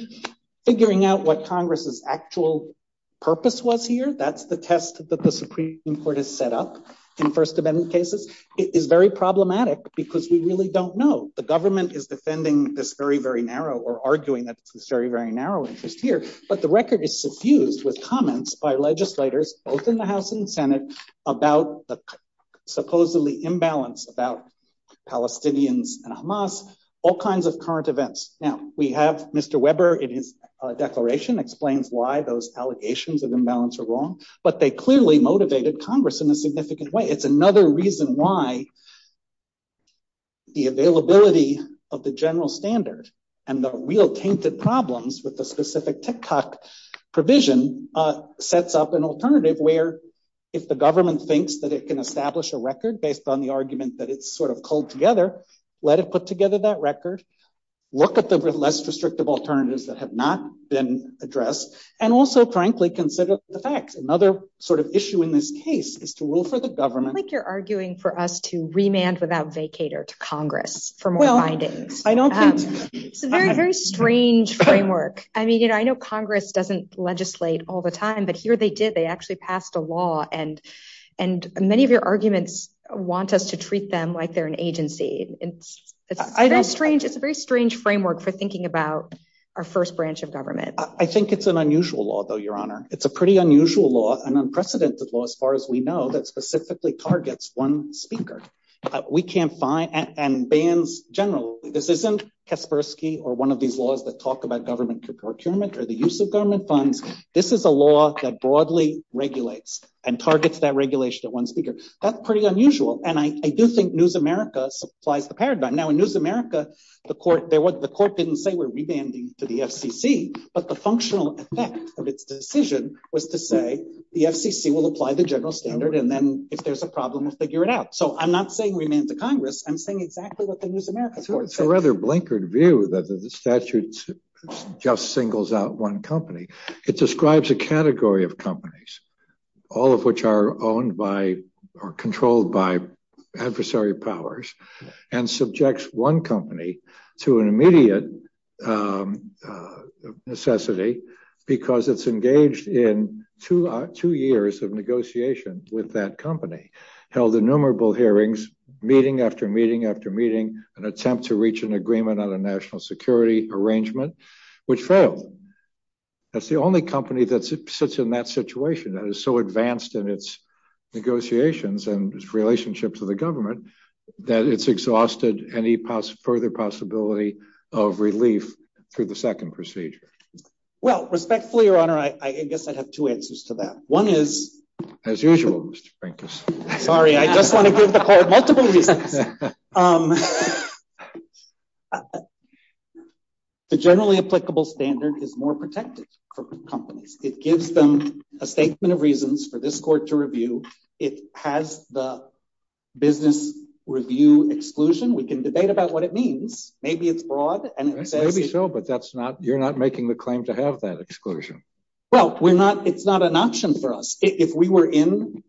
figuring out what Congress's actual purpose was here, that's the test that the Supreme Court has set up in First Amendment cases, is very problematic because we really don't know. The government is defending this very, very narrow or arguing that it's very, very narrow interest here. But the record is suffused with comments by legislators, both in the House and Senate, about the supposedly imbalance about Palestinians and Hamas, all kinds of current events. Now, we have Mr. Weber in his declaration explains why those allegations of imbalance are wrong, but they clearly motivated Congress in a significant way. It's another reason why the availability of the general standard and the real tainted problems with the specific TikTok provision sets up an alternative where if the government thinks that it can establish a record based on the argument that it's sort of culled together, let it put together that record, look at the less restrictive alternatives that have not been addressed, and also, frankly, consider the facts. Another sort of issue in this case is to rule for the government. It's like you're arguing for us to remand without vacate or to Congress for more findings. It's a very, very strange framework. I mean, you know, I know Congress doesn't legislate all the time, but here they did. They actually passed a law and and many of your arguments want us to treat them like they're an agency. And it's strange. It's a very strange framework for thinking about our first branch of government. I think it's an unusual law, though, Your Honor. It's a pretty unusual law, an unprecedented law, as far as we know, that specifically targets one speaker. We can't find and bans generally. This isn't Kaspersky or one of these laws that talk about government procurement or the use of government funds. This is a law that broadly regulates and targets that regulation at one speaker. That's pretty unusual. And I do think NewsAmerica supplies the paradigm. Now, in NewsAmerica, the court didn't say we're remanding to the FCC, but the functional effect of its decision was to say the FCC will apply the general standard. And then if there's a problem, figure it out. So I'm not saying we need the Congress. I'm saying exactly what the NewsAmerica court said. It's a rather blinkered view that the statute just singles out one company. It describes a category of companies, all of which are owned by or controlled by adversary powers and subjects one company to an immediate necessity, because it's engaged in two years of negotiations with that company, held innumerable hearings, meeting after meeting after meeting, an attempt to reach an agreement on a national security arrangement, which failed. That's the only company that sits in that situation that is so advanced in its negotiations and its relationship to the government that it's exhausted any further possibility of relief to the second procedure. Well, respectfully, Your Honor, I guess I have two answers to that. One is... As usual, Mr. Frankis. Sorry, I just want to give the court multiple reasons. The generally applicable standard is more protective for companies. It gives them a statement of reasons for this court to review. It has the business review exclusion. We can debate about what it means. Maybe it's broad. Maybe so, but you're not making the claim to have that exclusion. Well, it's not an option for us. If we were in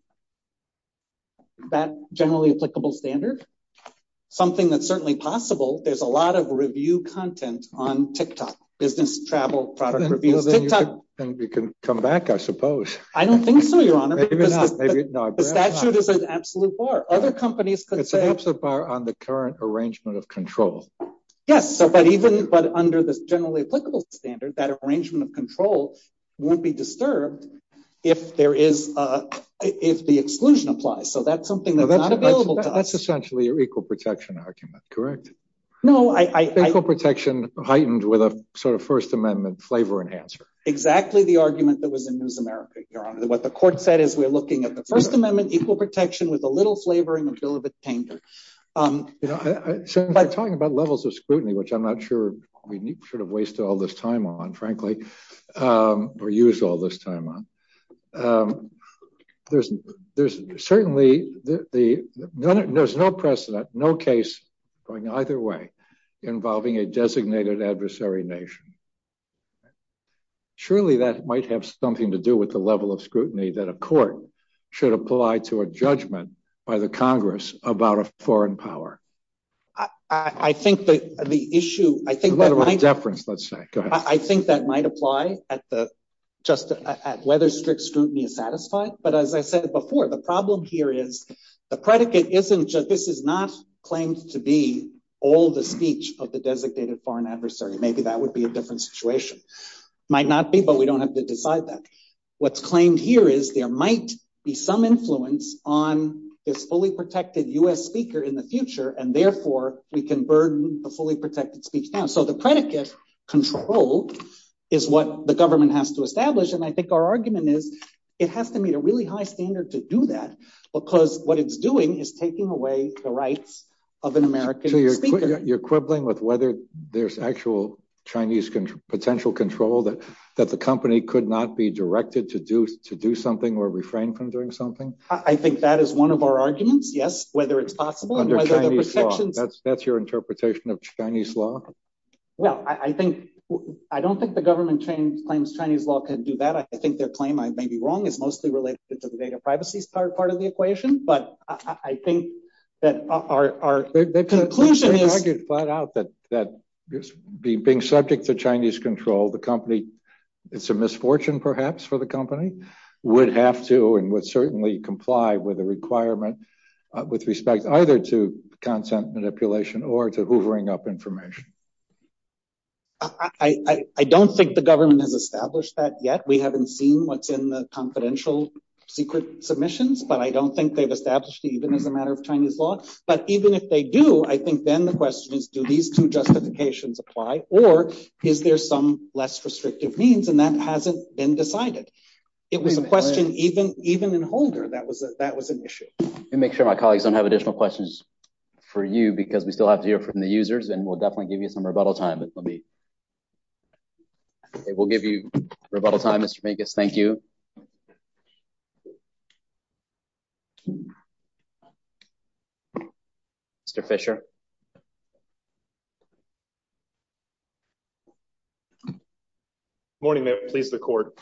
that generally applicable standard, something that's certainly possible, there's a lot of review content on TikTok, business travel, product reviews. You can come back, I suppose. I don't think so, Your Honor. The statute is an absolute bar. It's an absolute bar on the current arrangement of control. Yes, but under the generally applicable standard, that arrangement of control won't be disturbed if the exclusion applies. So that's something that's not available to us. That's essentially your equal protection argument, correct? No, I... Equal protection heightened with a sort of First Amendment flavor enhancer. Exactly the argument that was in NewsAmerica, Your Honor. What the court said is we're looking at the First Amendment, equal protection with a little flavor and a little bit of danger. By talking about levels of scrutiny, which I'm not sure we should have wasted all this time on, frankly, or used all this time on, there's certainly... There's no precedent, no case going either way involving a designated adversary nation. Surely that might have something to do with the level of scrutiny that a court should apply to a judgment by the Congress about a foreign power. I think that the issue... I think that might... Go ahead. I think that might apply at whether strict scrutiny is satisfied. But as I said before, the problem here is the predicate isn't just... This is not claimed to be all the speech of the designated foreign adversary. Maybe that would be a different situation. Might not be, but we don't have to decide that. What's claimed here is there might be some influence on this fully protected U.S. speaker in the future, and therefore we can burden the fully protected speech panel. So the predicate control is what the government has to establish. I think our argument is it has to meet a really high standard to do that, because what it's doing is taking away the rights of an American speaker. So you're quibbling with whether there's actual Chinese potential control, that the company could not be directed to do something or refrain from doing something? I think that is one of our arguments, yes, whether it's possible. Under Chinese law. That's your interpretation of Chinese law? Well, I don't think the government claims Chinese law can do that. I think their claim I may be wrong is mostly related to the data privacy part of the equation. But I think that our... I could point out that being subject to Chinese control, the company, it's a misfortune perhaps for the company, would have to and would certainly comply with a requirement with respect either to content manipulation or to hoovering up information. I don't think the government has established that yet. We haven't seen what's in the confidential secret submissions, but I don't think they've established it even as a matter of Chinese law. But even if they do, I think then the question is, do these two justifications apply or is there some less restrictive means? And that hasn't been decided. It was a question even in Holder that was an issue. Let me make sure my colleagues don't have additional questions for you because we still have to hear from the users and we'll definitely give you some rebuttal time. We'll give you rebuttal time, Mr. Vegas. Thank you. Thank you, Mr. Fischer. Good morning. Please, the court.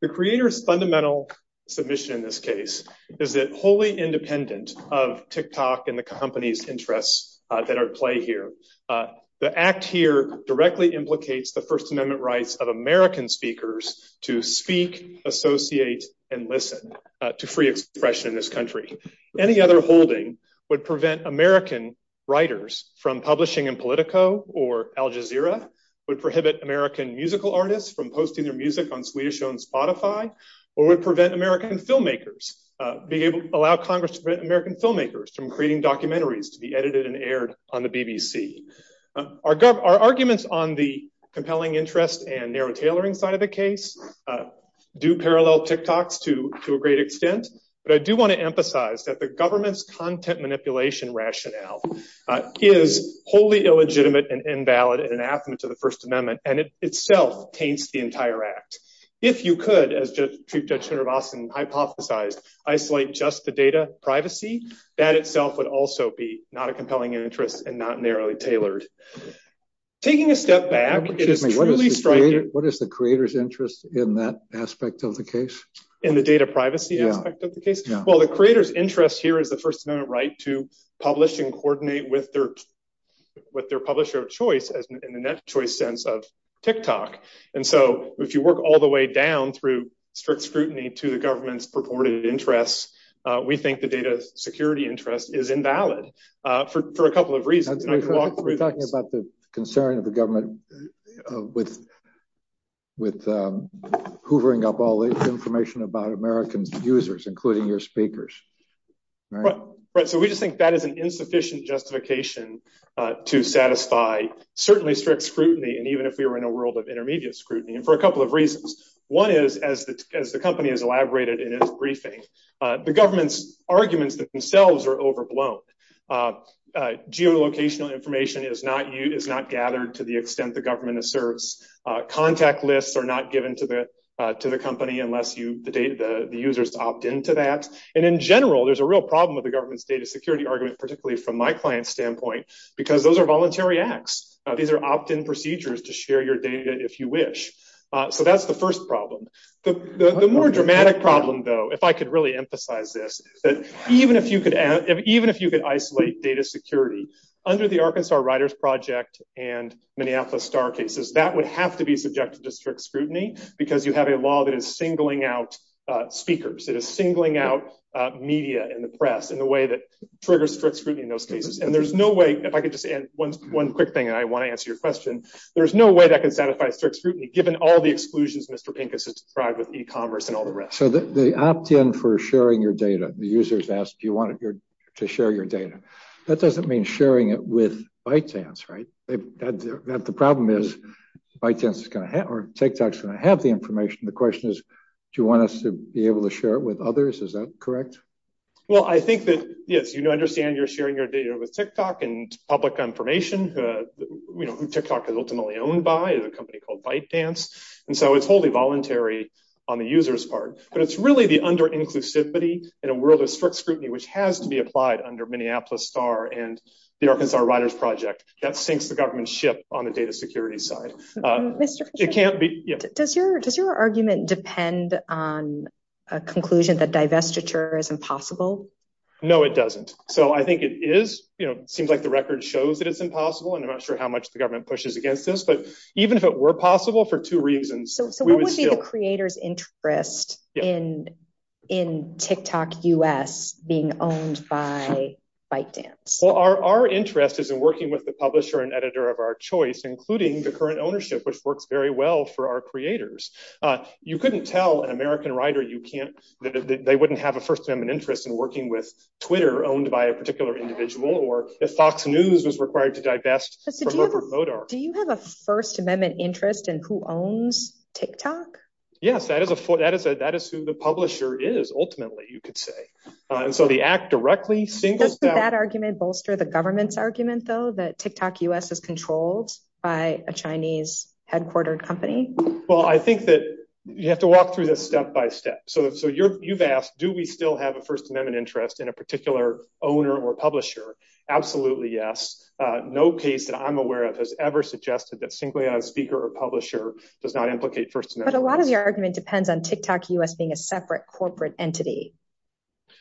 The creator's fundamental submission in this case is that wholly independent of TikTok and the company's interests that are at play here. The act here directly implicates the First Amendment rights of American speakers to speak, associate, and listen to free expression in this country. Any other holding would prevent American writers from publishing in Politico or Al Jazeera, would prohibit American musical artists from posting their music on Swedish on Spotify, or would prevent American filmmakers, allow Congress to prevent American filmmakers from creating documentaries to be edited and aired on the BBC. Our arguments on the compelling interest and narrow tailoring side of the case do parallel TikToks to a great extent. But I do want to emphasize that the government's content manipulation rationale is wholly illegitimate and invalid in an affidavit to the First Amendment, and it itself taints the entire act. If you could, as Chief Judge Srinivasan hypothesized, isolate just the data privacy, that itself would also be not a compelling interest and not narrowly tailored. Taking a step back, it's truly striking. What is the creator's interest in that aspect of the case? In the data privacy aspect of the case? Well, the creator's interest here is the First Amendment right to publish and coordinate with their publisher of choice in the net choice sense of TikTok. And so if you work all the way down through strict scrutiny to the government's purported interests, we think the data security interest is invalid for a couple of reasons. We're talking about the concern of the government with hoovering up all this information about American users, including your speakers. Right. So we just think that is an insufficient justification to satisfy certainly strict scrutiny. And even if you're in a world of intermediate scrutiny and for a couple of reasons, one is, as the company has elaborated in its briefing, the government's arguments themselves are overblown. Geolocational information is not used, is not gathered to the extent the government asserts. Contact lists are not given to the company unless the users opt into that. And in general, there's a real problem with the government's data security argument, particularly from my client's standpoint, because those are voluntary acts. These are opt-in procedures to share your data if you wish. So that's the first problem. The more dramatic problem, though, if I could really emphasize this, is that even if you could isolate data security under the Arkansas Writers Project and Minneapolis Star cases, that would have to be subjected to strict scrutiny because you have a law that is singling out speakers, that is singling out media and the press in the way that triggers strict scrutiny in those cases. And there's no way, if I could just add one quick thing, and I want to answer your question, there's no way that can satisfy strict scrutiny, given all the exclusions Mr. Pincus has deprived with e-commerce and all the rest. So the opt-in for sharing your data, the users ask, do you want to share your data? That doesn't mean sharing it with ByteDance, right? The problem is, ByteDance is going to have, or TikTok's going to have the information. The question is, do you want us to be able to share it with others? Is that correct? Well, I think that, yes, you understand you're sharing your data with TikTok and public information. TikTok is ultimately owned by a company called ByteDance. And so it's wholly voluntary on the user's part. But it's really the under-inclusivity and a world of strict scrutiny, which has to be applied under Minneapolis Star and the Arkansas Writers Project. That sinks the government ship on the data security side. It can't be. Does your argument depend on a conclusion that divestiture is impossible? No, it doesn't. So I think it is. It seems like the record shows that it's impossible. And I'm not sure how much the government pushes against this. But even if it were possible for two reasons. What would be the creator's interest in TikTok US being owned by ByteDance? Well, our interest is in working with the publisher and editor of our choice, including the current ownership, which works very well for our creators. You couldn't tell an American writer you can't. They wouldn't have a first amendment interest in working with Twitter owned by a particular individual. Or if Fox News is required to divest. Do you have a First Amendment interest in who owns TikTok? Yes, that is who the publisher is, ultimately, you could say. Does that argument bolster the government's argument, though, that TikTok US is controlled by a Chinese headquartered company? Well, I think that you have to walk through this step by step. So you've asked, do we still have a First Amendment interest in a particular owner or publisher? Absolutely, yes. No case that I'm aware of has ever suggested that simply a speaker or publisher does not implicate First Amendment. But a lot of your argument depends on TikTok US being a separate corporate entity.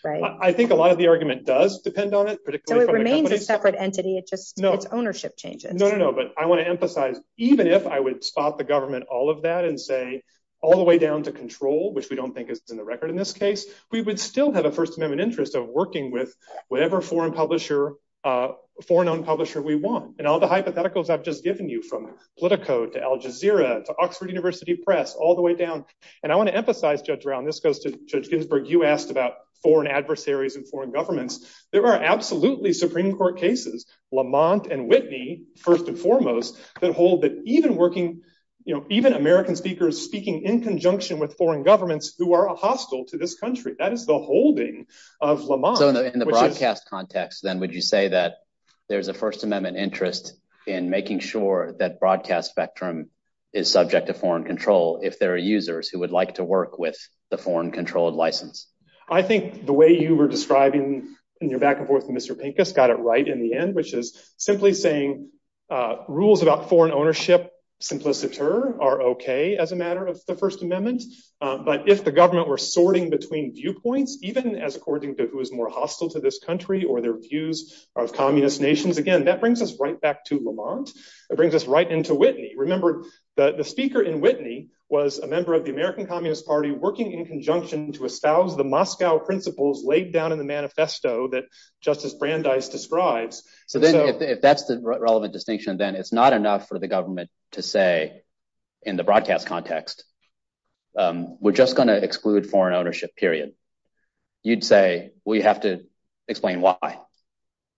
I think a lot of the argument does depend on it. It remains a separate entity. It's just ownership changes. No, no, no. But I want to emphasize, even if I would stop the government, all of that and say all the way down to control, which we don't think is in the record in this case, we would still have a First Amendment interest of working with whatever foreign publisher, foreign owned publisher we want. And all the hypotheticals I've just given you from Politico to Al Jazeera to Oxford University Press all the way down. And I want to emphasize, Judge Brown, this goes to Judge Ginsburg, you asked about foreign adversaries and foreign governments. There are absolutely Supreme Court cases, Lamont and Whitney, first and foremost, that hold that even working, even American speakers speaking in conjunction with foreign governments who are hostile to this country. That is the holding of Lamont. So in the broadcast context, then, would you say that there's a First Amendment interest in making sure that broadcast spectrum is subject to foreign control? If there are users who would like to work with the foreign controlled license? I think the way you were describing in your back and forth with Mr. Pinkus got it right in the end, which is simply saying rules about foreign ownership simpliciter are OK as a matter of the First Amendment. But if the government were sorting between viewpoints, even as according to who is more hostile to this country or their views of communist nations, again, that brings us right back to Lamont. It brings us right into Whitney. Remember, the speaker in Whitney was a member of the American Communist Party, working in conjunction to espouse the Moscow principles laid down in the manifesto that Justice Brandeis describes. So then if that's the relevant distinction, then it's not enough for the government to say in the broadcast context, we're just going to exclude foreign ownership, period. You'd say, we have to explain why.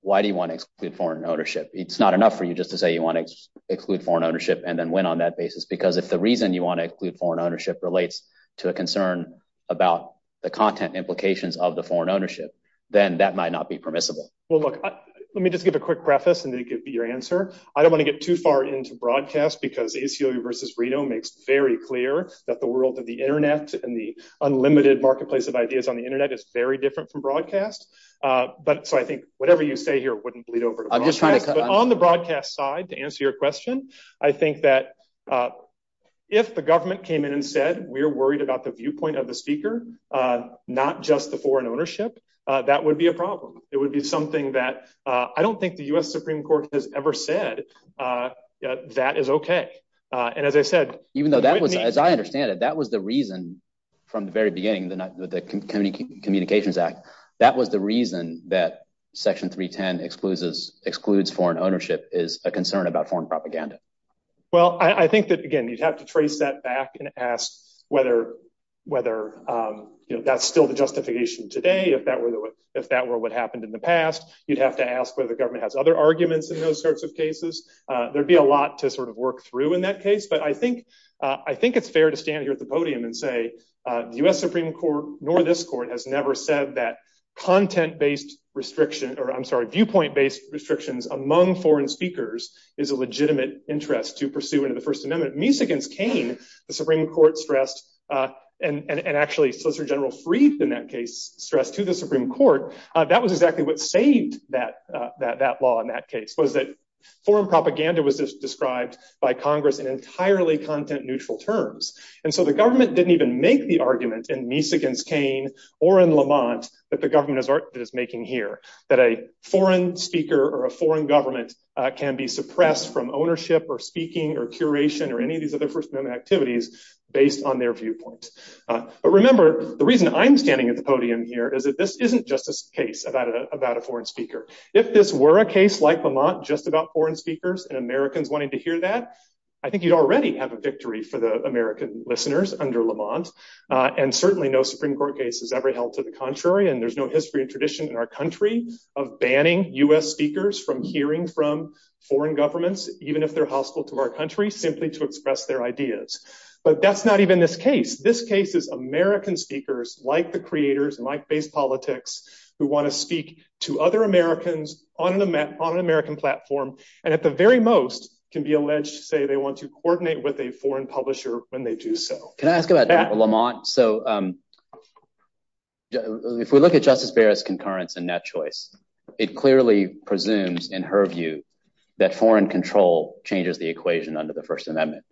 Why do you want to exclude foreign ownership? It's not enough for you just to say you want to exclude foreign ownership and then win on that basis, because if the reason you want to exclude foreign ownership relates to a concern about the content implications of the foreign ownership, then that might not be permissible. Well, look, let me just give a quick preface, and then it could be your answer. I don't want to get too far into broadcast because HCOE versus Rideau makes it very clear that the world of the Internet and the unlimited marketplace of ideas on the Internet is very different from broadcast. But I think whatever you say here wouldn't bleed over. On the broadcast side, to answer your question, I think that if the government came in and said, we're worried about the viewpoint of the speaker, not just the foreign ownership, that would be a problem. It would be something that I don't think the U.S. Supreme Court has ever said that is okay. And as I said, even though that was, as I understand it, that was the reason from the very beginning, the Community Communications Act, that was the reason that Section 310 excludes foreign ownership is a concern about foreign propaganda. Well, I think that, again, you'd have to trace that back and ask whether that's still the justification today, if that were what happened in the past. You'd have to ask whether the government has other arguments in those sorts of cases. There'd be a lot to sort of work through in that case. But I think it's fair to stand here at the podium and say the U.S. Supreme Court, nor this court, has never said that content-based restriction or, I'm sorry, viewpoint-based restrictions among foreign speakers is a legitimate interest to pursue in the First Amendment. At least against Kane, the Supreme Court stressed, and actually Solicitor General Freed, in that case, stressed to the Supreme Court, that was exactly what saved that law in that case, was that foreign propaganda was just described by Congress in entirely content-neutral terms. And so the government didn't even make the argument, at least against Kane or in Lamont, that the government is making here, that a foreign speaker or a foreign government can be suppressed from ownership or speaking or curation or any of these other First Amendment activities based on their viewpoint. But remember, the reason I'm standing at the podium here is that this isn't just a case about a foreign speaker. If this were a case like Lamont, just about foreign speakers and Americans wanting to hear that, I think you'd already have a victory for the American listeners under Lamont. And certainly no Supreme Court case has ever held to the contrary. And there's no history and tradition in our country of banning U.S. speakers from hearing from foreign governments, even if they're hostile to our country, simply to express their ideas. But that's not even this case. This case is American speakers like the creators and like base politics who want to speak to other Americans on an American platform and, at the very most, can be alleged to say they want to coordinate with a foreign publisher when they do so. Can I ask about that, Lamont? So if we look at Justice Barrett's concurrence in that choice, it clearly presumes, in her view, that foreign control changes the equation under the First Amendment.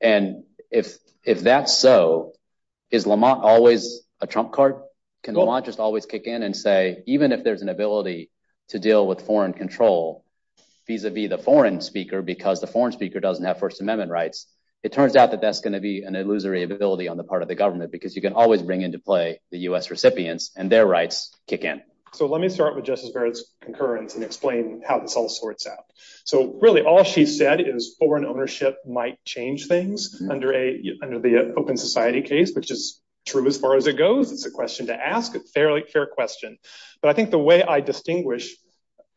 And if that's so, is Lamont always a trump card? Can Lamont just always kick in and say, even if there's an ability to deal with foreign control vis-a-vis the foreign speaker because the foreign speaker doesn't have First Amendment rights, it turns out that that's going to be an illusory ability on the part of the government because you can always bring into play the U.S. recipients and their rights kick in. So let me start with Justice Barrett's concurrence and explain how this all sorts out. So really all she said is foreign ownership might change things under the Open Society case, which is true as far as it goes. It's a question to ask. It's a fairly fair question. But I think the way I distinguish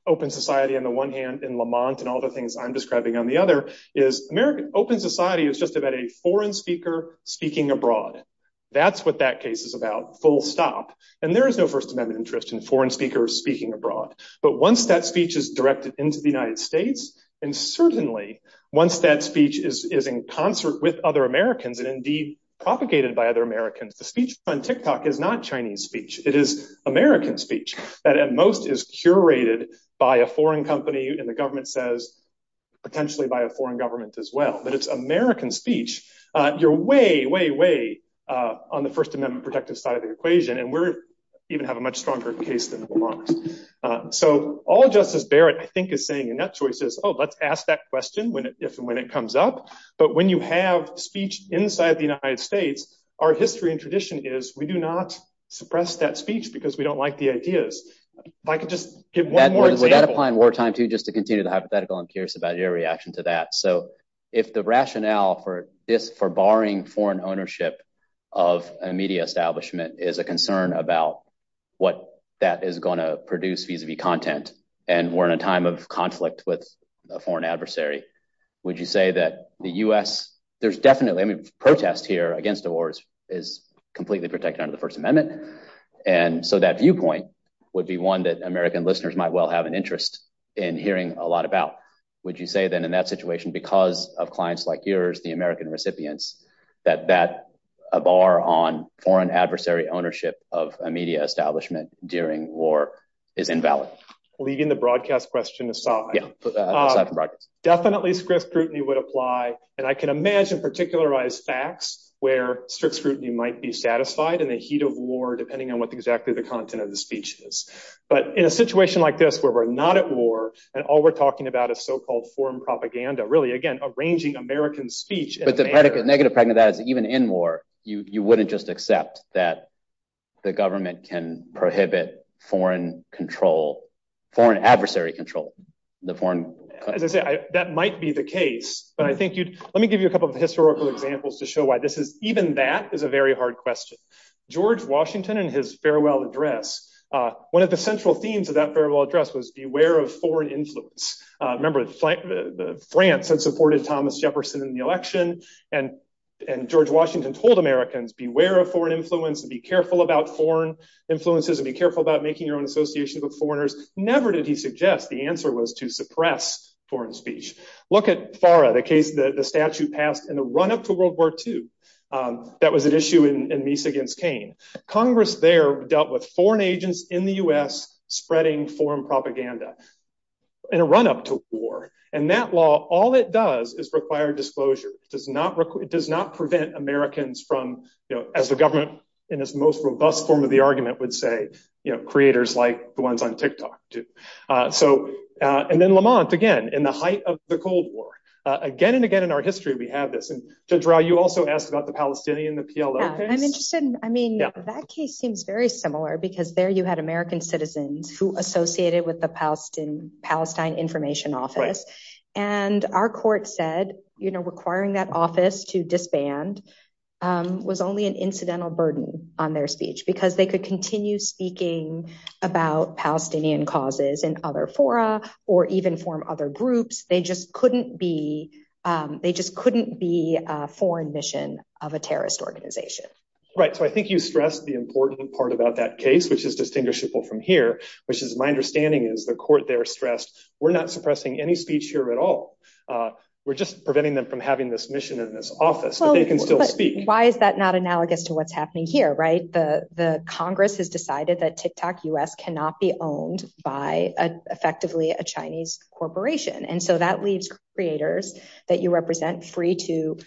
Open Society on the one hand and Lamont and all the things I'm describing on the other is American Open Society is just about a foreign speaker speaking abroad. That's what that case is about, full stop. And there is no First Amendment interest in foreign speakers speaking abroad. But once that speech is directed into the United States and certainly once that speech is in concert with other Americans and indeed propagated by other Americans, the speech on TikTok is not Chinese speech. It is American speech that at most is curated by a foreign company. And the government says potentially by a foreign government as well. But it's American speech. You're way, way, way on the First Amendment protected side of the equation. And we're even have a much stronger case than Lamont. So all Justice Barrett, I think, is saying in that choice is, oh, let's ask that question when it comes up. But when you have speech inside the United States, our history and tradition is we do not suppress that speech because we don't like the ideas. Michael, just give one more example. Would that apply in wartime, too, just to continue the hypothetical? I'm curious about your reaction to that. So if the rationale for this for barring foreign ownership of a media establishment is a concern about what that is going to produce, vis-a-vis content, and we're in a time of conflict with a foreign adversary, would you say that the U.S. There's definitely protests here against the wars is completely protected under the First Amendment. And so that viewpoint would be one that American listeners might well have an interest in hearing a lot about. Would you say, then, in that situation, because of clients like yours, the American recipients, that a bar on foreign adversary ownership of a media establishment during war is invalid? Leaving the broadcast question aside, definitely script scrutiny would apply. And I can imagine particularized facts where scrutiny might be satisfied in the heat of war, depending on what exactly the content of the speech is. But in a situation like this where we're not at war and all we're talking about is so-called foreign propaganda, really, again, arranging American speech. But the negative side of that is even in war, you wouldn't just accept that the government can prohibit foreign control, foreign adversary control. That might be the case. But I think you'd let me give you a couple of historical examples to show why this is even that is a very hard question. George Washington and his farewell address. One of the central themes of that farewell address was beware of foreign influence. Remember, France had supported Thomas Jefferson in the election. And George Washington told Americans, beware of foreign influence and be careful about foreign influences and be careful about making your own associations with foreigners. Never did he suggest the answer was to suppress foreign speech. Look at FARA, the statute passed in the run-up to World War II. That was an issue in Nice against Kane. Congress there dealt with foreign agents in the U.S. spreading foreign propaganda in a run-up to war. And that law, all it does is require disclosure. It does not prevent Americans from, as the government in its most robust form of the argument would say, creators like the ones on TikTok. And then Lamont, again, in the height of the Cold War, again and again in our history, we have this. Judge Rauh, you also asked about the Palestinian, the PLO case. I'm interested in, I mean, that case seems very similar because there you had American citizens who associated with the Palestine Information Office. And our court said requiring that office to disband was only an incidental burden on their speech because they could continue speaking about Palestinian causes in other fora or even form other groups. They just couldn't be they just couldn't be a foreign mission of a terrorist organization. Right. So I think you stress the important part about that case, which is distinguishable from here, which is my understanding is the court there stressed we're not suppressing any speech here at all. We're just preventing them from having this mission in this office. They can still speak. Why is that not analogous to what's happening here? Right. The Congress has decided that TikTok U.S. cannot be owned by effectively a Chinese corporation. And so that leaves creators that you represent free to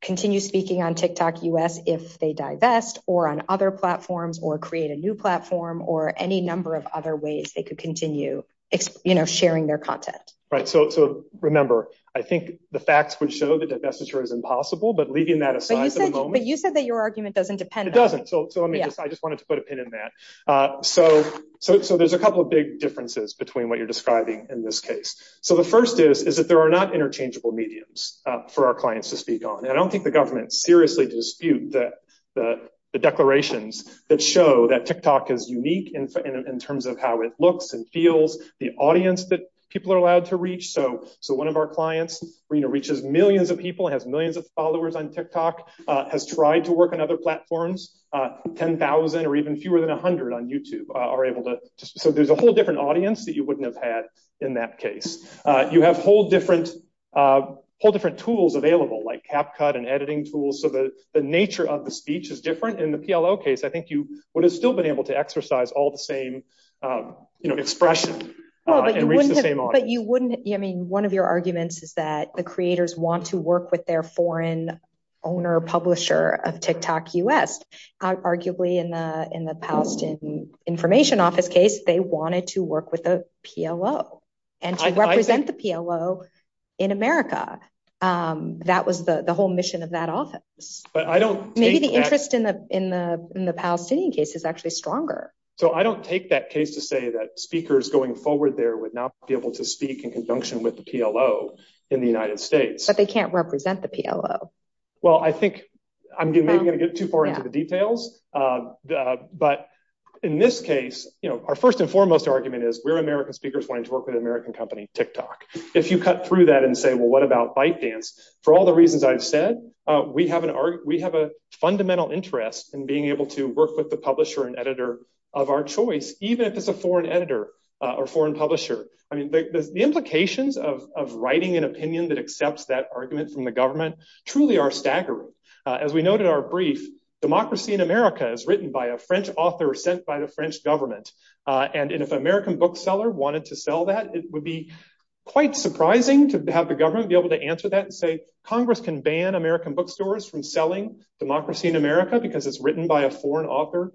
continue speaking on TikTok U.S. if they divest or on other platforms or create a new platform or any number of other ways they could continue sharing their content. So remember, I think the facts would show that divestiture is impossible. But leaving that aside. But you said that your argument doesn't depend. It doesn't. So I just wanted to put a pin in that. So so there's a couple of big differences between what you're describing in this case. So the first is, is that there are not interchangeable mediums for our clients to speak on. And I don't think the government seriously dispute that. The declarations that show that TikTok is unique in terms of how it looks and feels. The audience that people are allowed to reach. So so one of our clients reaches millions of people, has millions of followers on TikTok, has tried to work on other platforms. Ten thousand or even fewer than 100 on YouTube are able to. So there's a whole different audience that you wouldn't have had in that case. You have whole different, whole different tools available, like CapCut and editing tools. So the nature of the speech is different in the PLO case. I think you would have still been able to exercise all the same expression. But you wouldn't. I mean, one of your arguments is that the creators want to work with their foreign owner, the publisher of TikTok U.S., arguably in the in the Palestinian Information Office case, they wanted to work with the PLO and represent the PLO in America. That was the whole mission of that office. But I don't think the interest in the in the in the Palestinian case is actually stronger. So I don't take that case to say that speakers going forward there would not be able to speak in conjunction with the PLO in the United States. But they can't represent the PLO. Well, I think I'm going to get too far into the details. But in this case, our first and foremost argument is we're American speakers wanting to work with American company TikTok. If you cut through that and say, well, what about ByteDance? For all the reasons I've said, we have an art, we have a fundamental interest in being able to work with the publisher and editor of our choice, even if it's a foreign editor or foreign publisher. The implications of writing an opinion that accepts that argument from the government truly are staggering. As we noted in our brief, Democracy in America is written by a French author sent by the French government. And if an American bookseller wanted to sell that, it would be quite surprising to have the government be able to answer that and say, Congress can ban American bookstores from selling Democracy in America because it's written by a foreign author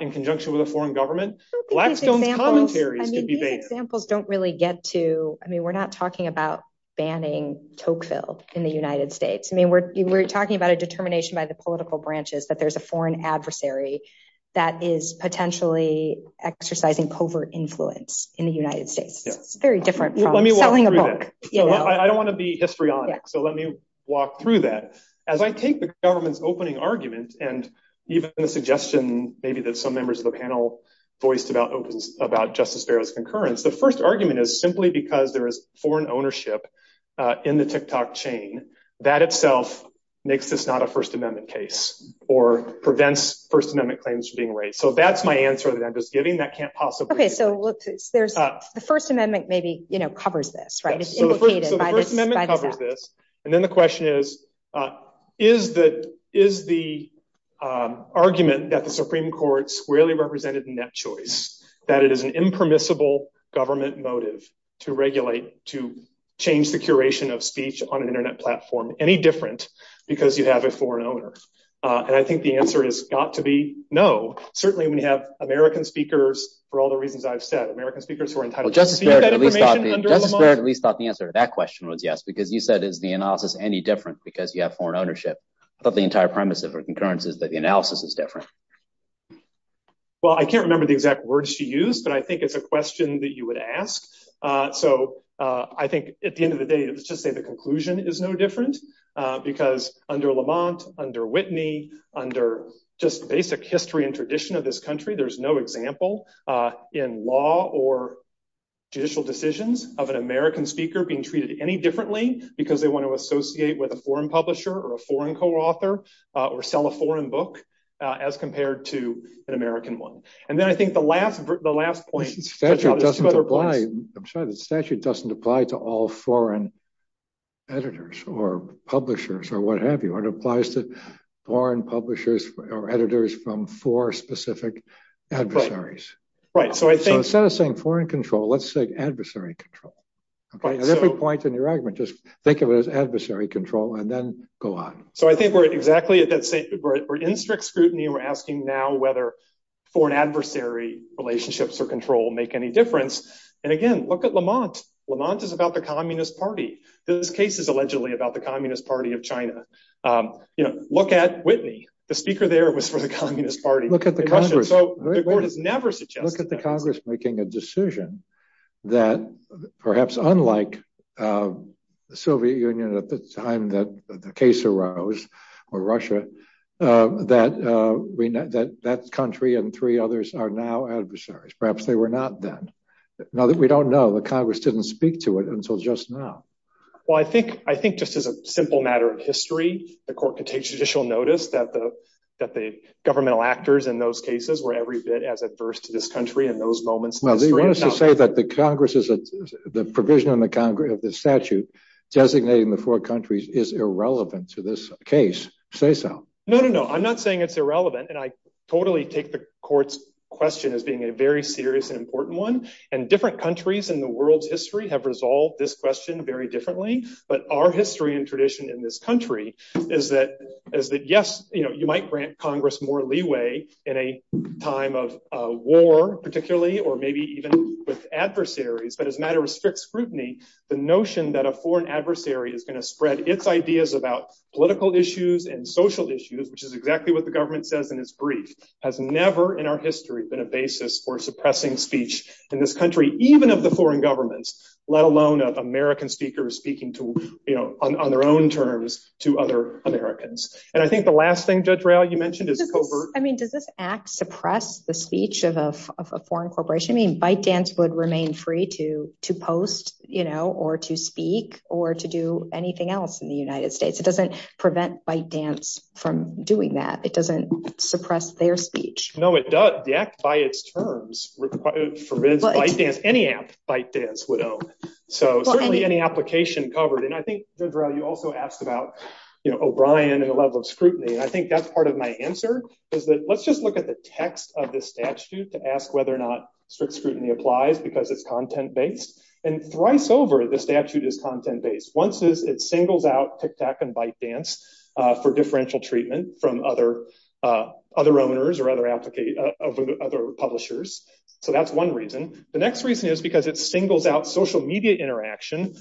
in conjunction with a foreign government. I mean, examples don't really get to I mean, we're not talking about banning Tocqueville in the United States. I mean, we're talking about a determination by the political branches that there's a foreign adversary that is potentially exercising covert influence in the United States. Very different. I don't want to be histrionic, so let me walk through that. As I take the government's opening argument and even a suggestion, maybe that some members of the panel voiced about Justice Fair's concurrence, the first argument is simply because there is foreign ownership in the TikTok chain. That itself makes this not a First Amendment case or prevents First Amendment claims from being raised. So that's my answer that I'm just giving that can't possibly. OK, so the First Amendment maybe covers this, right? And then the question is, is that is the argument that the Supreme Court's really represented in that choice, that it is an impermissible government motive to regulate, to change the curation of speech on an Internet platform any different because you have a foreign owner? And I think the answer has got to be no. Certainly, we have American speakers for all the reasons I've said. Justice Fair at least thought the answer to that question was yes, because you said, is the analysis any different because you have foreign ownership? But the entire premise of her concurrence is that the analysis is different. Well, I can't remember the exact words she used, but I think it's a question that you would ask. So I think at the end of the day, it's just that the conclusion is no different because under Lamont, under Whitney, under just basic history and tradition of this country, there's no example in law or judicial decisions of an American speaker being treated any differently because they want to associate with a foreign publisher or a foreign co-author or sell a foreign book as compared to an American one. And then I think the last the last point doesn't apply to all foreign editors or publishers or what have you. It applies to foreign publishers or editors from four specific adversaries. Right. So it's not a foreign control. Let's say adversary control. But at every point in your argument, just think of it as adversary control and then go on. So I think we're exactly at that. We're in strict scrutiny. We're asking now whether foreign adversary relationships or control make any difference. And again, look at Lamont. Lamont is about the Communist Party. This case is allegedly about the Communist Party of China. You know, look at Whitney. The speaker there was for the Communist Party. Look at the Congress making a decision that perhaps unlike the Soviet Union at the time that the case arose or Russia, that that country and three others are now adversaries. Perhaps they were not then. Now that we don't know, the Congress didn't speak to it until just now. Well, I think I think this is a simple matter of history. The court can take judicial notice that the that the governmental actors in those cases were every bit as adverse to this country in those moments. Well, they want us to say that the Congress is the provision of the statute designating the four countries is irrelevant to this case. Say so. No, no, no. I'm not saying it's irrelevant. And I totally take the court's question as being a very serious and important one. And different countries in the world's history have resolved this question very differently. But our history and tradition in this country is that is that, yes, you might grant Congress more leeway in a time of war, particularly, or maybe even with adversaries. But as a matter of strict scrutiny, the notion that a foreign adversary is going to spread its ideas about political issues and social issues, which is exactly what the government says in its brief, has never in our history been a basis for suppressing speech in this country, even of the foreign governments, let alone of American speakers speaking to, you know, on their own terms to other Americans. And I think the last thing, Judge Royale, you mentioned is covert. I mean, does this act suppress the speech of a foreign corporation? I mean, ByteDance would remain free to to post, you know, or to speak or to do anything else in the United States. It doesn't prevent ByteDance from doing that. It doesn't suppress their speech. No, it does. The act, by its terms, would prevent ByteDance, any act ByteDance would own. So certainly any application covered. And I think, Judge Royale, you also asked about, you know, O'Brien and the level of scrutiny. And I think that's part of my answer is that let's just look at the text of the statute to ask whether or not strict scrutiny applies because it's content based. And thrice over, the statute is content based. Once it singles out TikTok and ByteDance for differential treatment from other other owners or other other publishers. So that's one reason. The next reason is because it singles out social media interaction,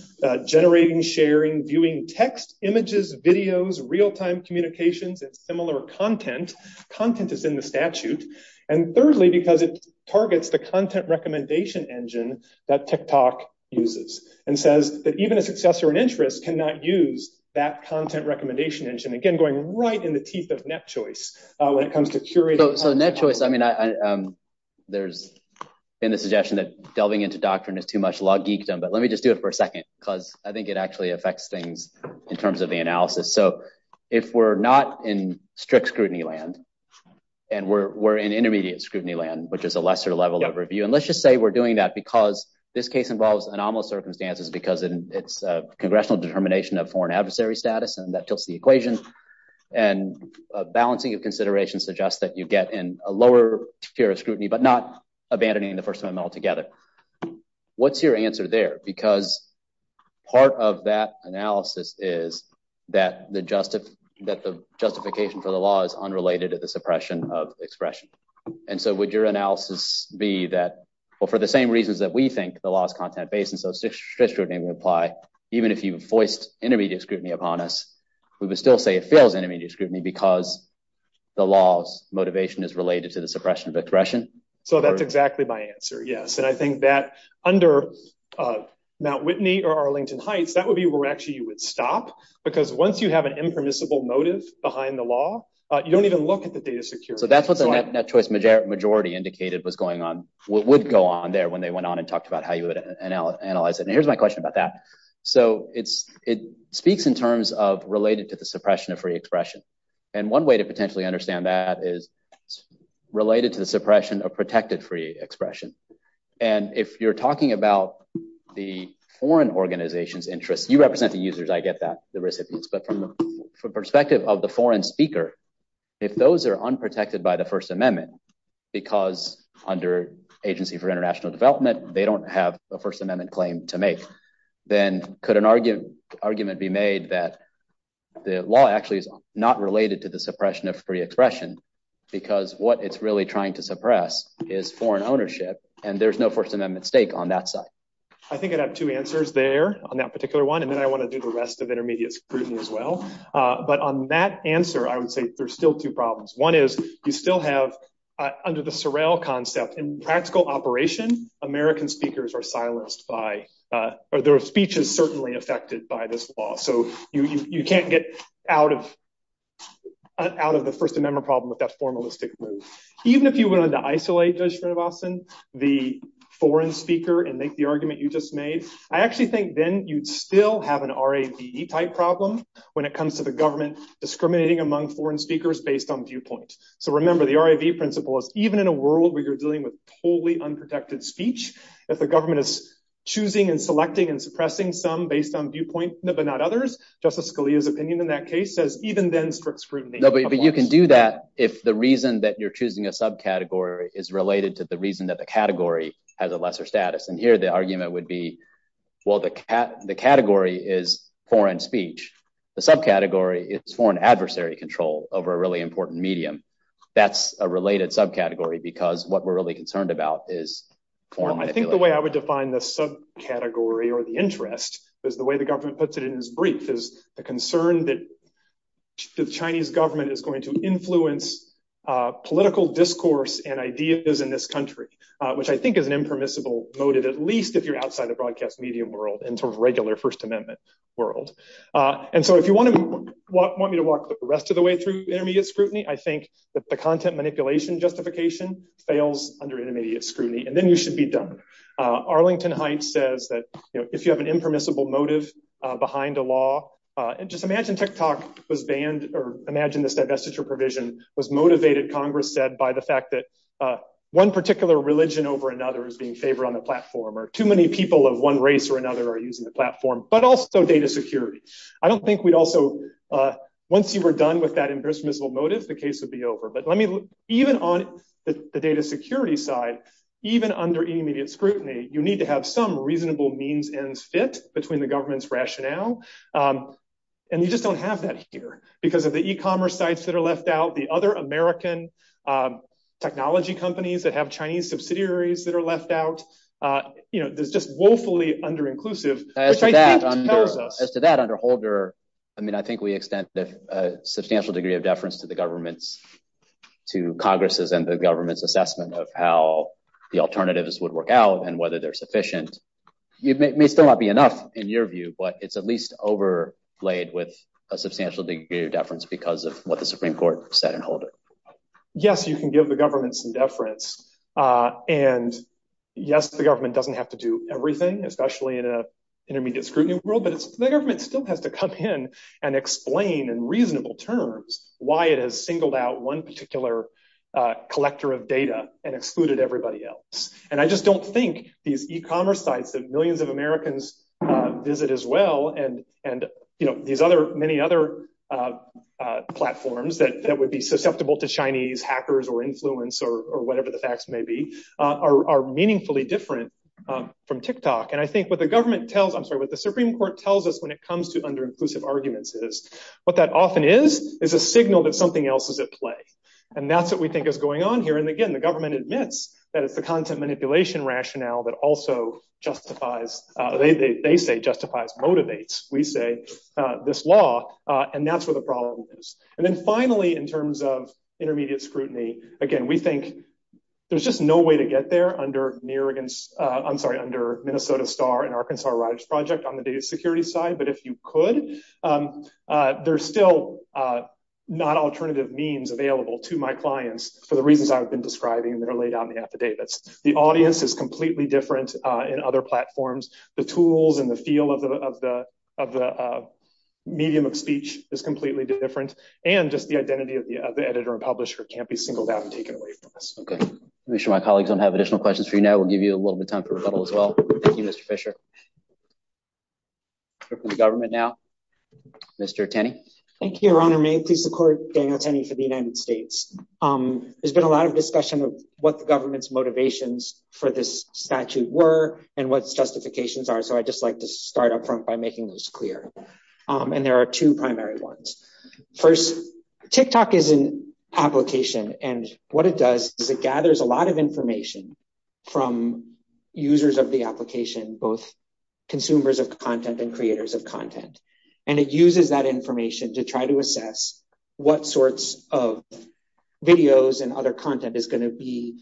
generating, sharing, viewing text, images, videos, real time communications and similar content. Content is in the statute. And thirdly, because it targets the content recommendation engine that TikTok uses and says that even a successor in interest cannot use that content recommendation engine. Again, going right in the teeth of NetChoice when it comes to curating. So NetChoice, I mean, there's been a suggestion that delving into doctrine is too much law geekdom. But let me just do it for a second because I think it actually affects things in terms of the analysis. So if we're not in strict scrutiny land and we're in intermediate scrutiny land, which is a lesser level of review. And let's just say we're doing that because this case involves anomalous circumstances because it's a congressional determination of foreign adversary status and that tilts the equation. And a balancing of considerations suggests that you get in a lower tier of scrutiny, but not abandoning the first amendment altogether. What's your answer there? Because part of that analysis is that the justification for the law is unrelated to the suppression of expression. And so would your analysis be that, well, for the same reasons that we think the law is content based and so strict scrutiny would apply, even if you voiced intermediate scrutiny upon us, we would still say it fails intermediate scrutiny because the law's motivation is related to the suppression of expression? So that's exactly my answer. Yes. And I think that under Mount Whitney or Arlington Heights, that would be where actually you would stop. Because once you have an impermissible notice behind the law, you don't even look at the data security. So that's what the net choice majority indicated was going on, would go on there when they went on and talked about how you would analyze it. And here's my question about that. So it speaks in terms of related to the suppression of free expression. And one way to potentially understand that is related to the suppression of protected free expression. And if you're talking about the foreign organization's interest, you represent the users, I get that, the recipients. But from the perspective of the foreign speaker, if those are unprotected by the First Amendment, because under Agency for International Development, they don't have a First Amendment claim to make, then could an argument be made that the law actually is not related to the suppression of free expression because what it's really trying to suppress is foreign ownership and there's no First Amendment stake on that side? I think I'd have two answers there on that particular one. And then I want to do the rest of intermediate scrutiny as well. But on that answer, I would say there's still two problems. One is you still have, under the Sorrell concept, in practical operation, American speakers are silenced by, or their speech is certainly affected by this law. So you can't get out of the First Amendment problem if that's formalistic. Even if you wanted to isolate, Judge Gregobson, the foreign speaker and make the argument you just made, I actually think then you'd still have an R.A.V. type problem when it comes to the government discriminating among foreign speakers based on viewpoint. So remember, the R.A.V. principle is even in a world where you're dealing with totally unprotected speech, if the government is choosing and selecting and suppressing some based on viewpoint, but not others, Justice Scalia's opinion in that case says even then, strict scrutiny. But you can do that if the reason that you're choosing a subcategory is related to the reason that the category has a lesser status. And here the argument would be, well, the category is foreign speech. The subcategory is foreign adversary control over a really important medium. That's a related subcategory because what we're really concerned about is foreign influence. I think the way I would define the subcategory or the interest is the way the government puts it in its brief is the concern that the Chinese government is going to influence political discourse and ideas in this country, which I think is an impermissible motive, at least if you're outside the broadcast media world and sort of regular First Amendment world. And so if you want me to walk the rest of the way through immediate scrutiny, I think that the content manipulation justification fails under immediate scrutiny, and then you should be done. Arlington Heights says that if you have an impermissible motive behind a law, just imagine TikTok was banned or imagine this divestiture provision was motivated, Congress said, by the fact that one particular religion over another is being favored on a platform or too many people of one race or another are using the platform, but also data security. I don't think we also, once you were done with that impermissible motive, the case would be over. But even on the data security side, even under immediate scrutiny, you need to have some reasonable means and fit between the government's rationale. And you just don't have that here because of the e-commerce sites that are left out, the other American technology companies that have Chinese subsidiaries that are left out. As to that, under Holder, I mean, I think we extend a substantial degree of deference to the government's, to Congress's and the government's assessment of how the alternatives would work out and whether they're sufficient. It may still not be enough in your view, but it's at least overlaid with a substantial degree of deference because of what the Supreme Court said in Holder. Yes, you can give the government some deference. And yes, the government doesn't have to do everything, especially in an intermediate scrutiny world. But the government still has to come in and explain in reasonable terms why it has singled out one particular collector of data and excluded everybody else. And I just don't think these e-commerce sites that millions of Americans visit as well, and these many other platforms that would be susceptible to Chinese hackers or influence or whatever the facts may be, are meaningfully different from TikTok. And I think what the government tells, I'm sorry, what the Supreme Court tells us when it comes to under-inclusive arguments is what that often is, is a signal that something else is at play. And that's what we think is going on here. And again, the government admits that it's the content manipulation rationale that also justifies, they say justifies, motivates, we say, this law, and that's where the problem is. And then finally, in terms of intermediate scrutiny, again, we think there's just no way to get there under Minnesota Star and Arkansas Riders Project on the data security side. But if you could, there's still not alternative means available to my clients for the reasons I've been describing that are laid out in the affidavits. The audience is completely different in other platforms. The tools and the feel of the medium of speech is completely different. And just the identity of the editor and publisher can't be singled out and taken away from us. Okay. I'm going to make sure my colleagues don't have additional questions for you now. We'll give you a little bit of time for rebuttal as well. Thank you, Mr. Fisher. We'll go to the government now. Mr. Tenney. Thank you, Your Honor. May it please the Court, Daniel Tenney for the United States. There's been a lot of discussion of what the government's motivations for this statute were and what its justifications are, so I'd just like to start up front by making this clear. And there are two primary ones. First, TikTok is an application, and what it does is it gathers a lot of information from users of the application, both consumers of content and creators of content. And it uses that information to try to assess what sorts of videos and other content is going to be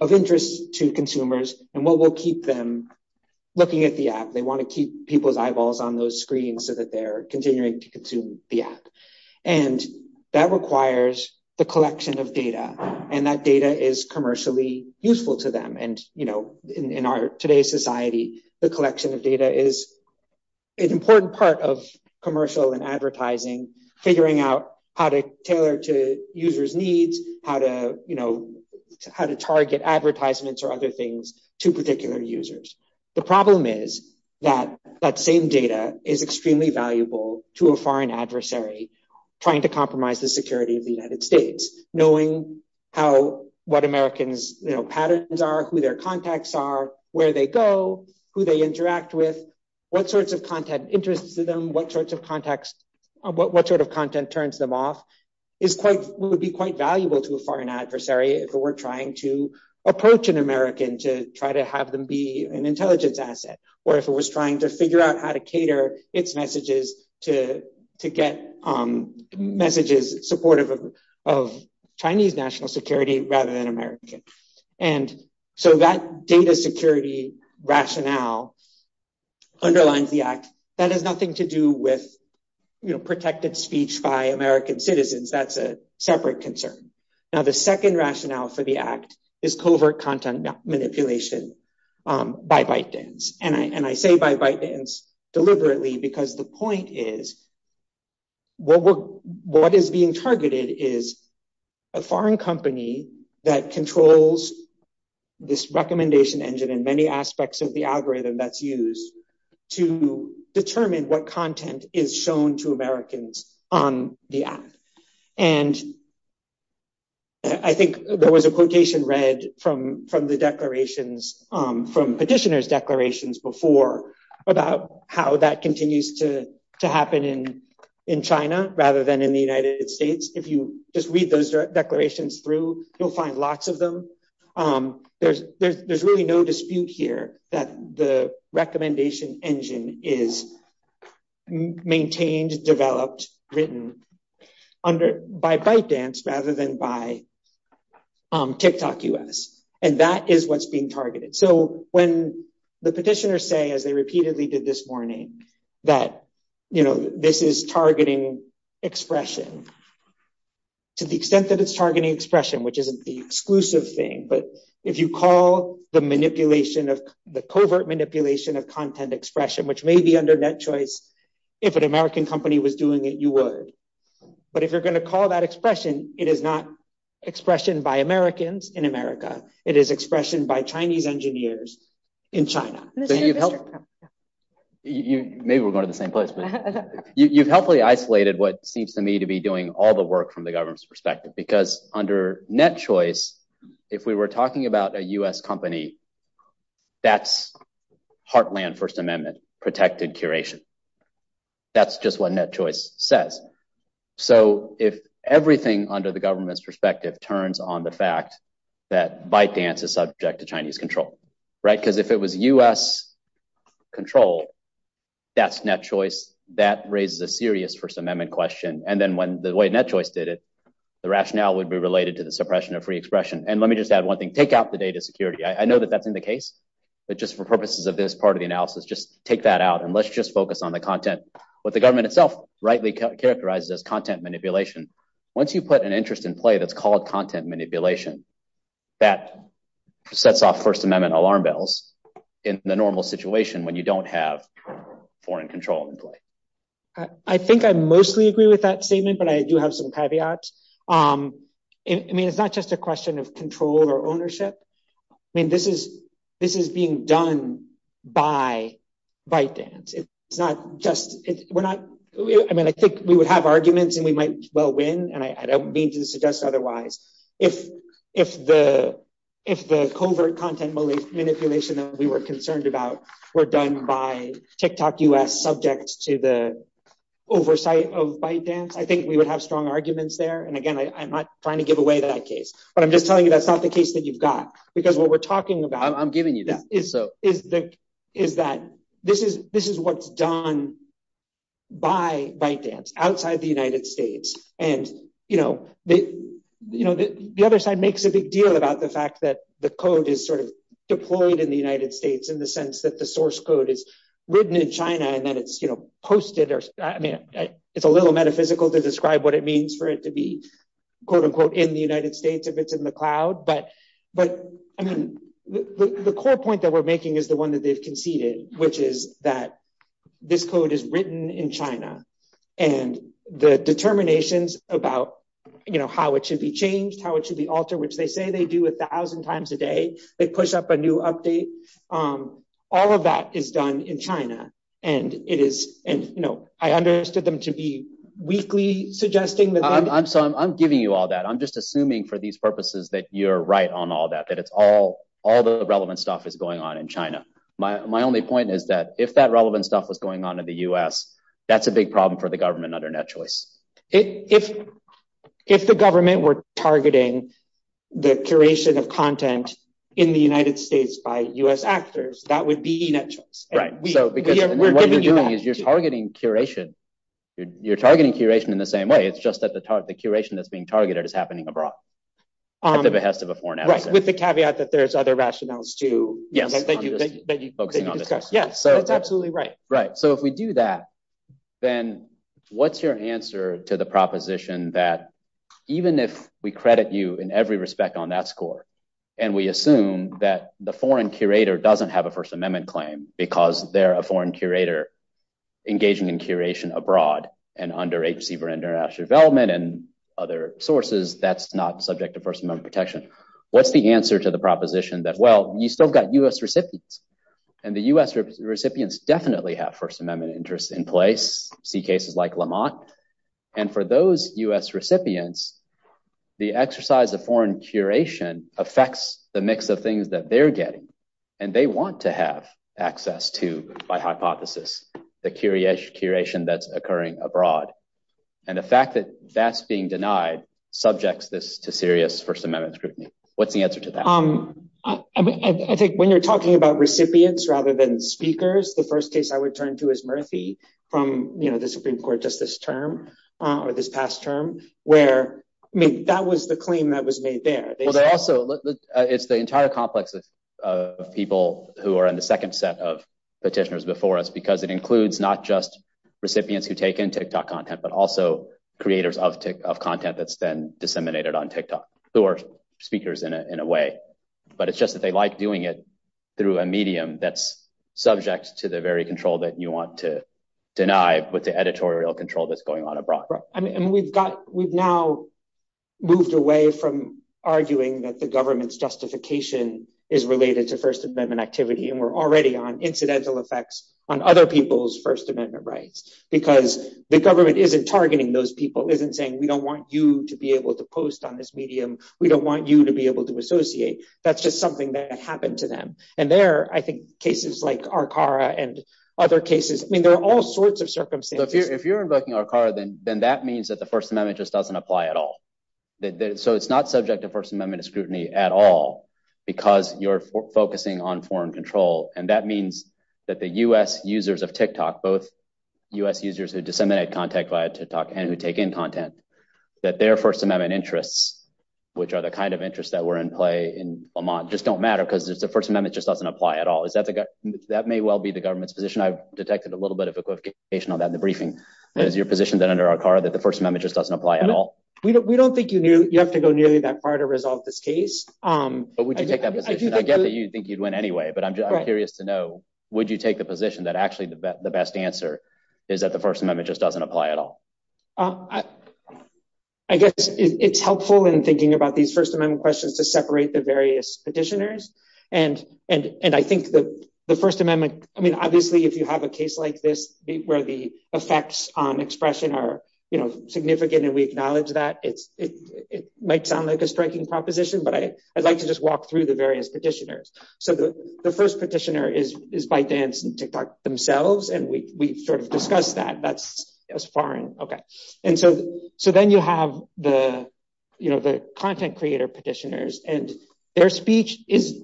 of interest to consumers and what will keep them looking at the app. They want to keep people's eyeballs on those screens so that they're continuing to consume the app. And that requires the collection of data, and that data is commercially useful to them. And in today's society, the collection of data is an important part of commercial and advertising, figuring out how to tailor to users' needs, how to target advertisements or other things to particular users. The problem is that that same data is extremely valuable to a foreign adversary trying to compromise the security of the United States. Knowing what Americans' patterns are, who their contacts are, where they go, who they interact with, what sorts of content interests them, what sort of content turns them off, would be quite valuable to a foreign adversary if it were trying to approach an American to try to have them be an investor. If it were trying to figure out how to cater its messages to get messages supportive of Chinese national security rather than American. And so that data security rationale underlines the Act. That has nothing to do with protected speech by American citizens. That's a separate concern. Now, the second rationale for the Act is covert content manipulation by ByteDance. And I say by ByteDance deliberately because the point is what is being targeted is a foreign company that controls this recommendation engine and many aspects of the algorithm that's used to determine what content is shown to Americans on the Act. And I think there was a quotation read from the declarations, from petitioner's declarations before about how that continues to happen in China rather than in the United States. If you just read those declarations through, you'll find lots of them. There's really no dispute here that the recommendation engine is maintained, developed, written by ByteDance rather than by TikTok US. And that is what's being targeted. So when the petitioners say, as they repeatedly did this morning, that this is targeting expression, to the extent that it's targeting expression, which isn't the exclusive thing, but if you call the manipulation of the covert manipulation of content expression, which may be under that choice, if an American company was doing it, you would. But if you're going to call that expression, it is not expression by Americans in America. It is expression by Chinese engineers in China. Maybe we're going to the same place. You've helpfully isolated what seems to me to be doing all the work from the government's perspective, because under net choice, if we were talking about a US company, that's Heartland First Amendment protected curation. That's just what net choice says. So if everything under the government's perspective turns on the fact that ByteDance is subject to Chinese control, right? Because if it was US control, that's net choice, that raises a serious First Amendment question. And then when the way net choice did it, the rationale would be related to the suppression of free expression. And let me just add one thing. Take out the data security. I know that that's not the case, but just for purposes of this part of the analysis, just take that out and let's just focus on the content. What the government itself rightly characterized as content manipulation, once you put an interest in play that's called content manipulation, that sets off First Amendment alarm bells in the normal situation when you don't have foreign control in play. I think I mostly agree with that statement, but I do have some caveats. I mean, it's not just a question of control or ownership. I mean, this is being done by ByteDance. I mean, I think we would have arguments and we might well win, and I don't mean to suggest otherwise. If the covert content manipulation that we were concerned about were done by TikTok US subject to the oversight of ByteDance, I think we would have strong arguments there. And again, I'm not trying to give away that case, but I'm just telling you that's not the case that you've got. Because what we're talking about is that this is what's done by ByteDance outside the United States. And, you know, the other side makes a big deal about the fact that the code is sort of deployed in the United States in the sense that the source code is written in China and that it's posted. It's a little metaphysical to describe what it means for it to be, quote unquote, in the United States if it's in the cloud. But the core point that we're making is the one that is conceded, which is that this code is written in China and the determinations about, you know, how it should be changed, how it should be altered, which they say they do a thousand times a day, they push up a new update, all of that is done in China. And, you know, I understood them to be weakly suggesting. I'm giving you all that. I'm just assuming for these purposes that you're right on all that, that it's all the relevant stuff that's going on in China. My only point is that if that relevant stuff was going on in the U.S., that's a big problem for the government under NetChoice. If the government were targeting the curation of content in the United States by U.S. actors, that would be E-NetChoice. What you're doing is you're targeting curation. You're targeting curation in the same way. It's just that the curation that's being targeted is happening abroad at the behest of a foreign actor. Right. With the caveat that there's other rationales too. That you focus on. Yes. That's absolutely right. Right. So if we do that, then what's your answer to the proposition that even if we credit you in every respect on that score, and we assume that the foreign curator doesn't have a First Amendment claim because they're a foreign curator engaging in curation abroad, and under H.C. Verinderash's development and other sources, that's not subject to First Amendment protection. What's the answer to the proposition that, well, you still got U.S. recipients, and the U.S. recipients definitely have First Amendment interests in place, see cases like Lamont, and for those U.S. recipients, the exercise of foreign curation affects the mix of things that they're getting, and they want to have access to, by hypothesis, the curation that's occurring abroad. And the fact that that's being denied subjects this to serious First Amendment scrutiny. What's the answer to that? I think when you're talking about recipients rather than speakers, the first case I would turn to is Murphy from, you know, the Supreme Court just this term, or this past term, where, I mean, that was the claim that was made there. Well, they also, it's the entire complex of people who are in the second set of petitioners before us, because it includes not just recipients who take in TikTok content, but also creators of content that's been disseminated on TikTok. There are speakers in a way, but it's just that they like doing it through a medium that's subject to the very control that you want to deny, but the editorial control that's going on abroad. And we've got, we've now moved away from arguing that the government's justification is related to First Amendment activity, and we're already on incidental effects on other people's First Amendment rights, because the government isn't targeting those people, isn't saying, we don't want you to be able to post on this medium. We don't want you to be able to associate. That's just something that happened to them. And there, I think, cases like Arcara and other cases, I mean, there are all sorts of circumstances. If you're invoking Arcara, then that means that the First Amendment just doesn't apply at all. So it's not subject to First Amendment scrutiny at all because you're focusing on foreign control. And that means that the U.S. users of TikTok, both U.S. users who disseminate content via TikTok and who take in content, that their First Amendment interests, which are the kind of interests that were in play in Lamont, just don't matter because the First Amendment just doesn't apply at all. That may well be the government's position. I've detected a little bit of equivocation on that in the briefing. Is your position then under Arcara that the First Amendment just doesn't apply at all? We don't think you have to go nearly that far to resolve this case. I get that you think you'd win anyway, but I'm curious to know, would you take a position that actually the best answer is that the First Amendment just doesn't apply at all? I guess it's helpful in thinking about these First Amendment questions to separate the various petitioners. And I think that the First Amendment, I mean, obviously, if you have a case like this, where the effects on expression are significant and we acknowledge that, it might sound like a striking proposition. But I'd like to just walk through the various petitioners. So the first petitioner is ByteDance and TikTok themselves. And we sort of discussed that. And so then you have the content creator petitioners and their speech is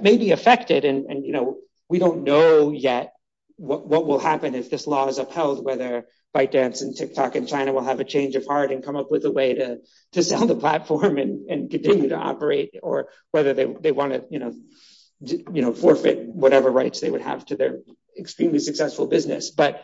maybe affected. And, you know, we don't know yet what will happen if this law is upheld, whether ByteDance and TikTok in China will have a change of heart and come up with a way to sell the platform and continue to operate, or whether they want to forfeit whatever rights they would have to their extremely successful business. But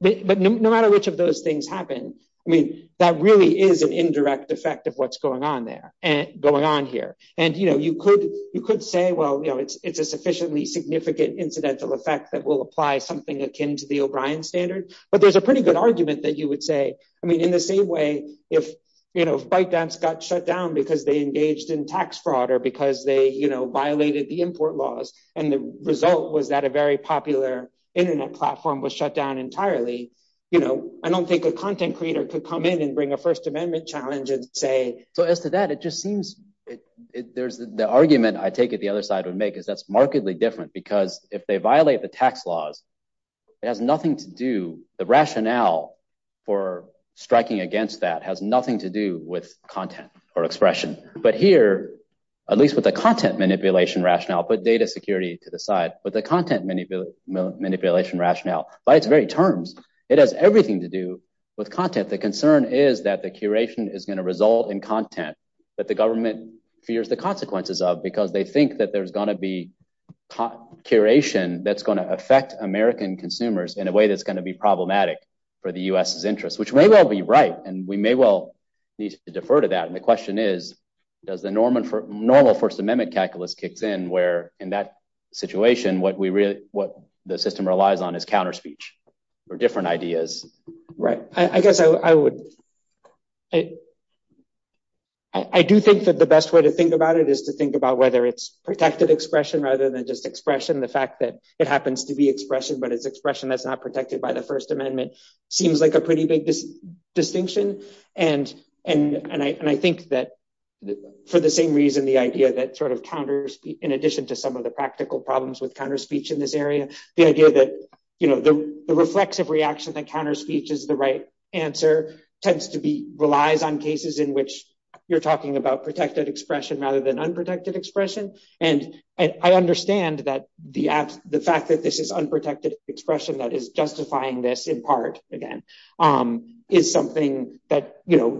no matter which of those things happen, I mean, that really is an indirect effect of what's going on there and going on here. And, you know, you could you could say, well, you know, it's a sufficiently significant incidental effect that will apply something akin to the O'Brien standard. But there's a pretty good argument that you would say. I mean, in the same way, if, you know, ByteDance got shut down because they engaged in tax fraud or because they, you know, violated the import laws and the result was that a very popular Internet platform was shut down entirely. You know, I don't think a content creator could come in and bring a First Amendment challenge and say. So as to that, it just seems there's the argument. I take it the other side would make is that's markedly different because if they violate the tax laws, it has nothing to do, the rationale for striking against that has nothing to do with content or expression. But here, at least with the content manipulation rationale, put data security to the side, but the content manipulation rationale by its very terms, it has everything to do with content. The concern is that the curation is going to result in content that the government fears the consequences of because they think that there's going to be curation that's going to affect American consumers in a way that's going to be problematic for the U.S.'s interests, which may well be right. And we may well need to defer to that. And the question is, does the normal First Amendment calculus kicks in where in that situation, what the system relies on is counter speech or different ideas? Right. I guess I would. I do think that the best way to think about it is to think about whether it's protected expression rather than just expression, the fact that it happens to be expression, but it's expression that's not protected by the First Amendment seems like a pretty big distinction. And I think that for the same reason, the idea that sort of counters, in addition to some of the practical problems with counter speech in this area, the idea that the reflexive reaction that counters speech is the right answer tends to be relies on cases in which you're talking about protected expression rather than unprotected expression. And I understand that the fact that this is unprotected expression that is justifying this in part, again, is something that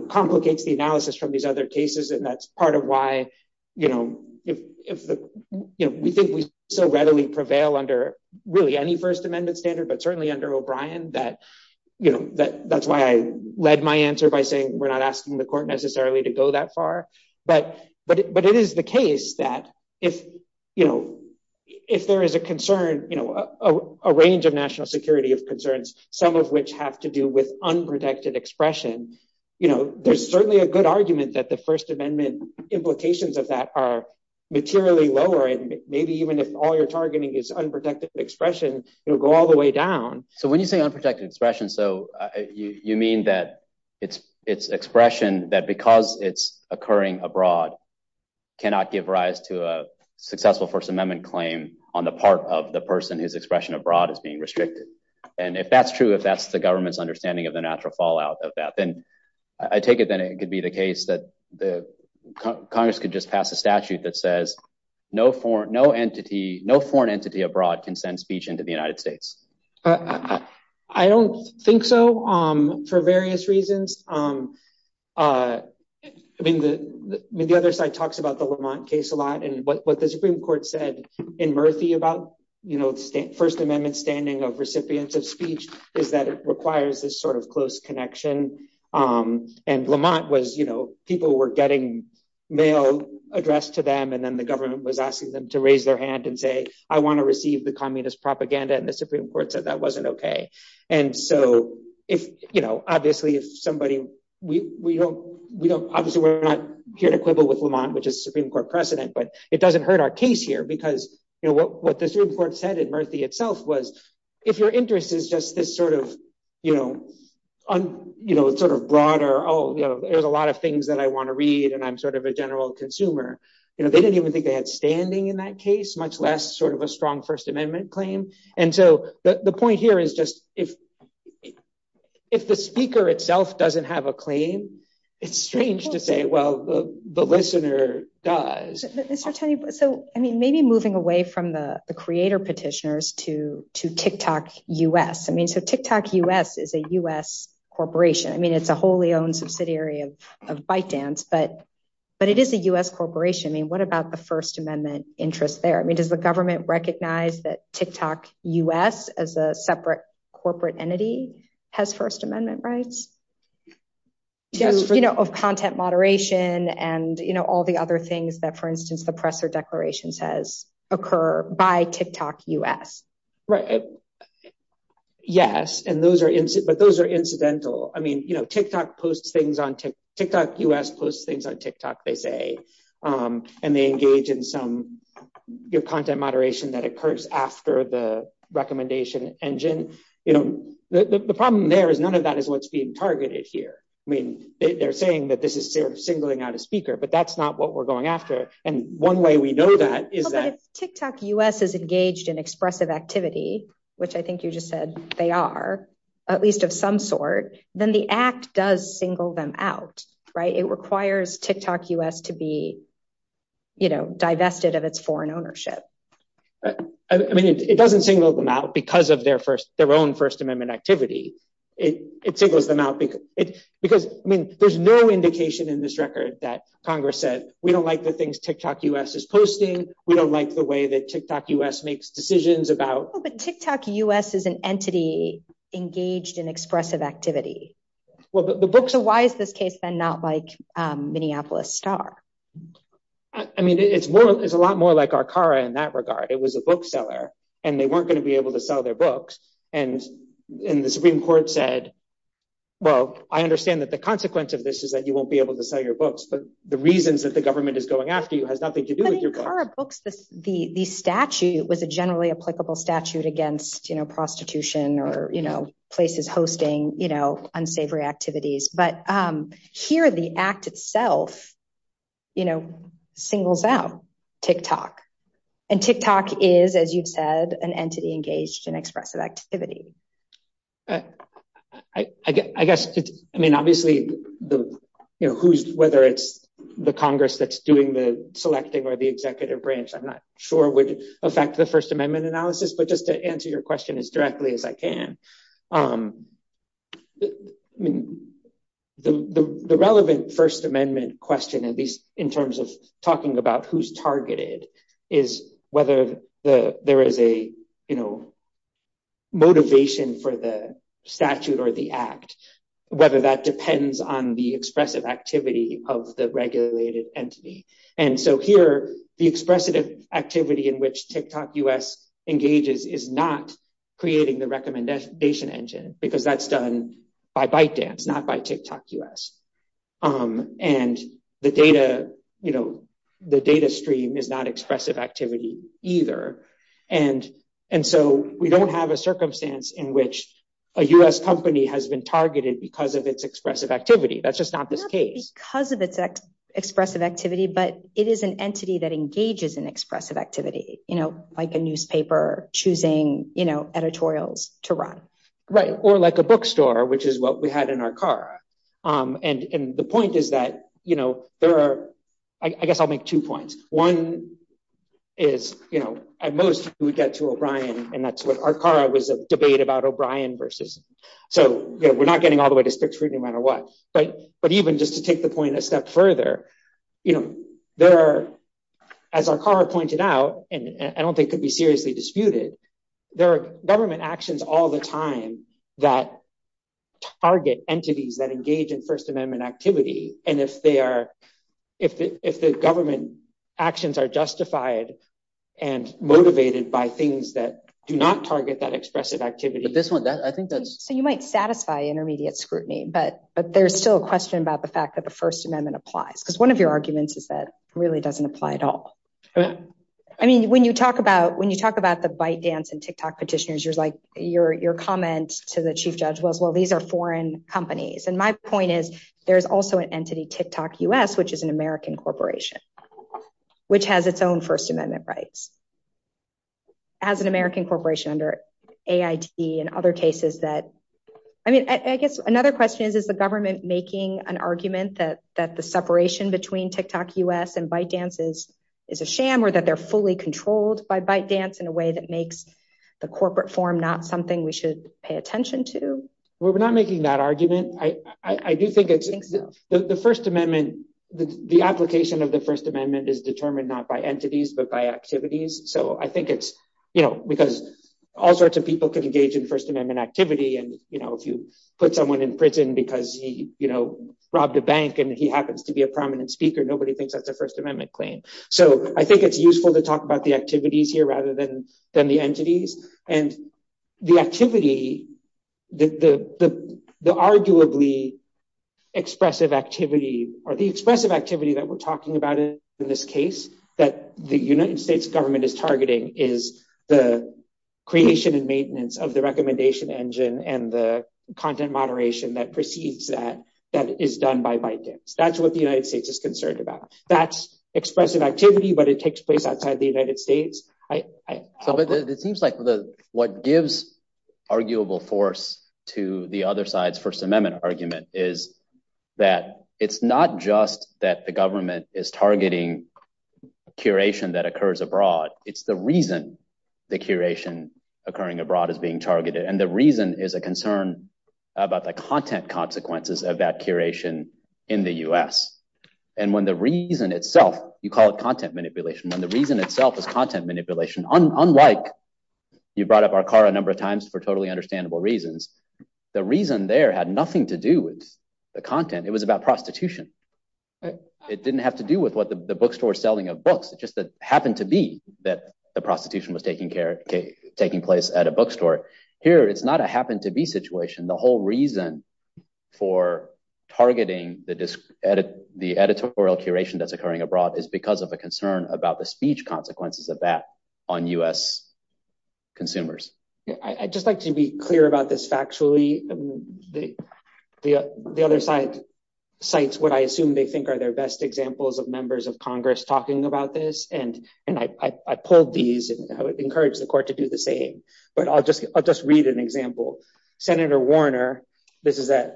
complicates the analysis from these other cases. And that's part of why we think we so readily prevail under really any First Amendment standard, but certainly under O'Brien, that's why I led my answer by saying we're not asking the court necessarily to go that far. But it is the case that if there is a concern, a range of national security of concerns, some of which have to do with unprotected expression, there's certainly a good argument that the First Amendment implications of that are materially lower. And maybe even if all you're targeting is unprotected expression, it'll go all the way down. So when you say unprotected expression, so you mean that it's expression that because it's occurring abroad, cannot give rise to a successful First Amendment claim on the part of the person whose expression abroad is being restricted. And if that's true, if that's the government's understanding of the natural fallout of that, then I take it that it could be the case that Congress could just pass a statute that says no foreign entity abroad can send speech into the United States. I don't think so, for various reasons. I mean, the other side talks about the Lamont case a lot. And what the Supreme Court said in Murphy about the First Amendment standing of recipients of speech is that it requires this sort of close connection. And Lamont was, you know, people were getting mail addressed to them, and then the government was asking them to raise their hand and say, I want to receive the communist propaganda. And the Supreme Court said that wasn't OK. And so, you know, obviously if somebody, we don't, obviously we're not here to quibble with Lamont, which is Supreme Court precedent, but it doesn't hurt our case here because, you know, what the Supreme Court said in Murphy itself was, if your interest is just this sort of, you know, sort of broader, oh, there's a lot of things that I want to read and I'm sort of a general consumer, you know, they didn't even think they had standing in that case, much less sort of a strong First Amendment claim. And so the point here is just if the speaker itself doesn't have a claim, it's strange to say, well, the listener does. So, I mean, maybe moving away from the creator petitioners to TikTok U.S. I mean, so TikTok U.S. is a U.S. corporation. I mean, it's a wholly owned subsidiary of ByteDance, but it is a U.S. corporation. I mean, what about the First Amendment interest there? I mean, does the government recognize that TikTok U.S. as a separate corporate entity has First Amendment rights? You know, of content moderation and, you know, all the other things that, for instance, the presser declaration says occur by TikTok U.S. Right. Yes. And those are but those are incidental. I mean, you know, TikTok U.S. posts things on TikTok, they say, and they engage in some content moderation that occurs after the recommendation engine. You know, the problem there is none of that is what's being targeted here. I mean, they're saying that this is singling out a speaker, but that's not what we're going after. And one way we know that is that TikTok U.S. is engaged in expressive activity, which I think you just said they are, at least of some sort. Then the act does single them out. Right. It requires TikTok U.S. to be. You know, divested of its foreign ownership. I mean, it doesn't single them out because of their first their own First Amendment activity. It singles them out because it's because there's no indication in this record that Congress said we don't like the things TikTok U.S. is posting. We don't like the way that TikTok U.S. makes decisions about. But TikTok U.S. is an entity engaged in expressive activity. Well, the books. Why is this case and not like Minneapolis Star? I mean, it's more it's a lot more like Arcara in that regard. It was a bookseller and they weren't going to be able to sell their books. And in the Supreme Court said, well, I understand that the consequence of this is that you won't be able to sell your books. But the reasons that the government is going after you has nothing to do with your books. The statute was a generally applicable statute against, you know, prostitution or, you know, places hosting, you know, unsavory activities. But here the act itself, you know, singles out TikTok. And TikTok is, as you've said, an entity engaged in expressive activity. I guess I mean, obviously, you know, who's whether it's the Congress that's doing the selecting or the executive branch, I'm not sure would affect the First Amendment analysis, but just to answer your question as directly as I can. I mean, the relevant First Amendment question, at least in terms of talking about who's targeted, is whether there is a, you know, motivation for the statute or the act, whether that depends on the expressive activity of the regulated entity. And so here the expressive activity in which TikTok U.S. engages is not creating the recommendation engine because that's done by ByteDance, not by TikTok U.S. And the data, you know, the data stream is not expressive activity either. And so we don't have a circumstance in which a U.S. company has been targeted because of its expressive activity. That's just not the case. Because of its expressive activity. But it is an entity that engages in expressive activity, you know, like a newspaper choosing, you know, editorials to run. Right. Or like a bookstore, which is what we had in our car. And the point is that, you know, there are I guess I'll make two points. One is, you know, at most we get to O'Brien and that's what our car was a debate about O'Brien versus. So we're not getting all the way to Spitz Creek no matter what. Right. But even just to take the point a step further, you know, there are, as our car pointed out, and I don't think could be seriously disputed. There are government actions all the time that target entities that engage in First Amendment activity. And if they are if the government actions are justified and motivated by things that do not target that expressive activity. So you might satisfy intermediate scrutiny, but there's still a question about the fact that the First Amendment applies. Because one of your arguments is that really doesn't apply at all. I mean, when you talk about when you talk about the bite dance and Tick-Tock petitioners, you're like your comment to the chief judge was, well, these are foreign companies. And my point is there is also an entity, Tick-Tock US, which is an American corporation, which has its own First Amendment rights. As an American corporation under AIT and other cases that I mean, I guess another question is, is the government making an argument that that the separation between Tick-Tock US and bite dances is a sham or that they're fully controlled by bite dance in a way that makes the corporate form not something we should pay attention to? We're not making that argument. I do think it's the First Amendment. The application of the First Amendment is determined not by entities, but by activities. So I think it's because all sorts of people can engage in First Amendment activity. And if you put someone in prison because he robbed a bank and he happens to be a prominent speaker, nobody thinks that's a First Amendment claim. So I think it's useful to talk about the activities here rather than the entities. And the activity, the arguably expressive activity or the expressive activity that we're talking about in this case that the United States government is targeting is the creation and maintenance of the recommendation engine and the content moderation that precedes that, that is done by bite dance. That's what the United States is concerned about. That's expressive activity, but it takes place outside the United States. It seems like what gives arguable force to the other side's First Amendment argument is that it's not just that the government is targeting curation that occurs abroad. It's the reason the curation occurring abroad is being targeted. And the reason is a concern about the content consequences of that curation in the US. And when the reason itself, you call it content manipulation, when the reason itself is content manipulation, unlike you brought up our car a number of times for totally understandable reasons, the reason there had nothing to do with the content. It was about prostitution. It didn't have to do with the bookstore selling of books. It just happened to be that the prostitution was taking place at a bookstore. Here, it's not a happen to be situation. The whole reason for targeting the editorial curation that's occurring abroad is because of a concern about the speech consequences of that on US consumers. I'd just like to be clear about this factually. The other side cites what I assume they think are their best examples of members of Congress talking about this, and I pulled these and I would encourage the court to do the same, but I'll just read an example. Senator Warner, this is at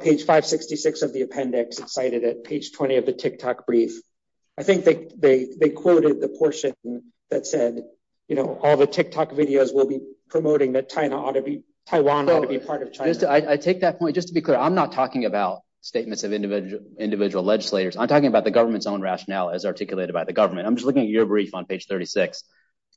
page 566 of the appendix. It's cited at page 20 of the TikTok brief. I think they quoted the portion that said all the TikTok videos will be promoting that Taiwan ought to be part of China. I take that point. Just to be clear, I'm not talking about statements of individual legislators. I'm talking about the government's own rationale as articulated by the government. I'm just looking at your brief on page 36.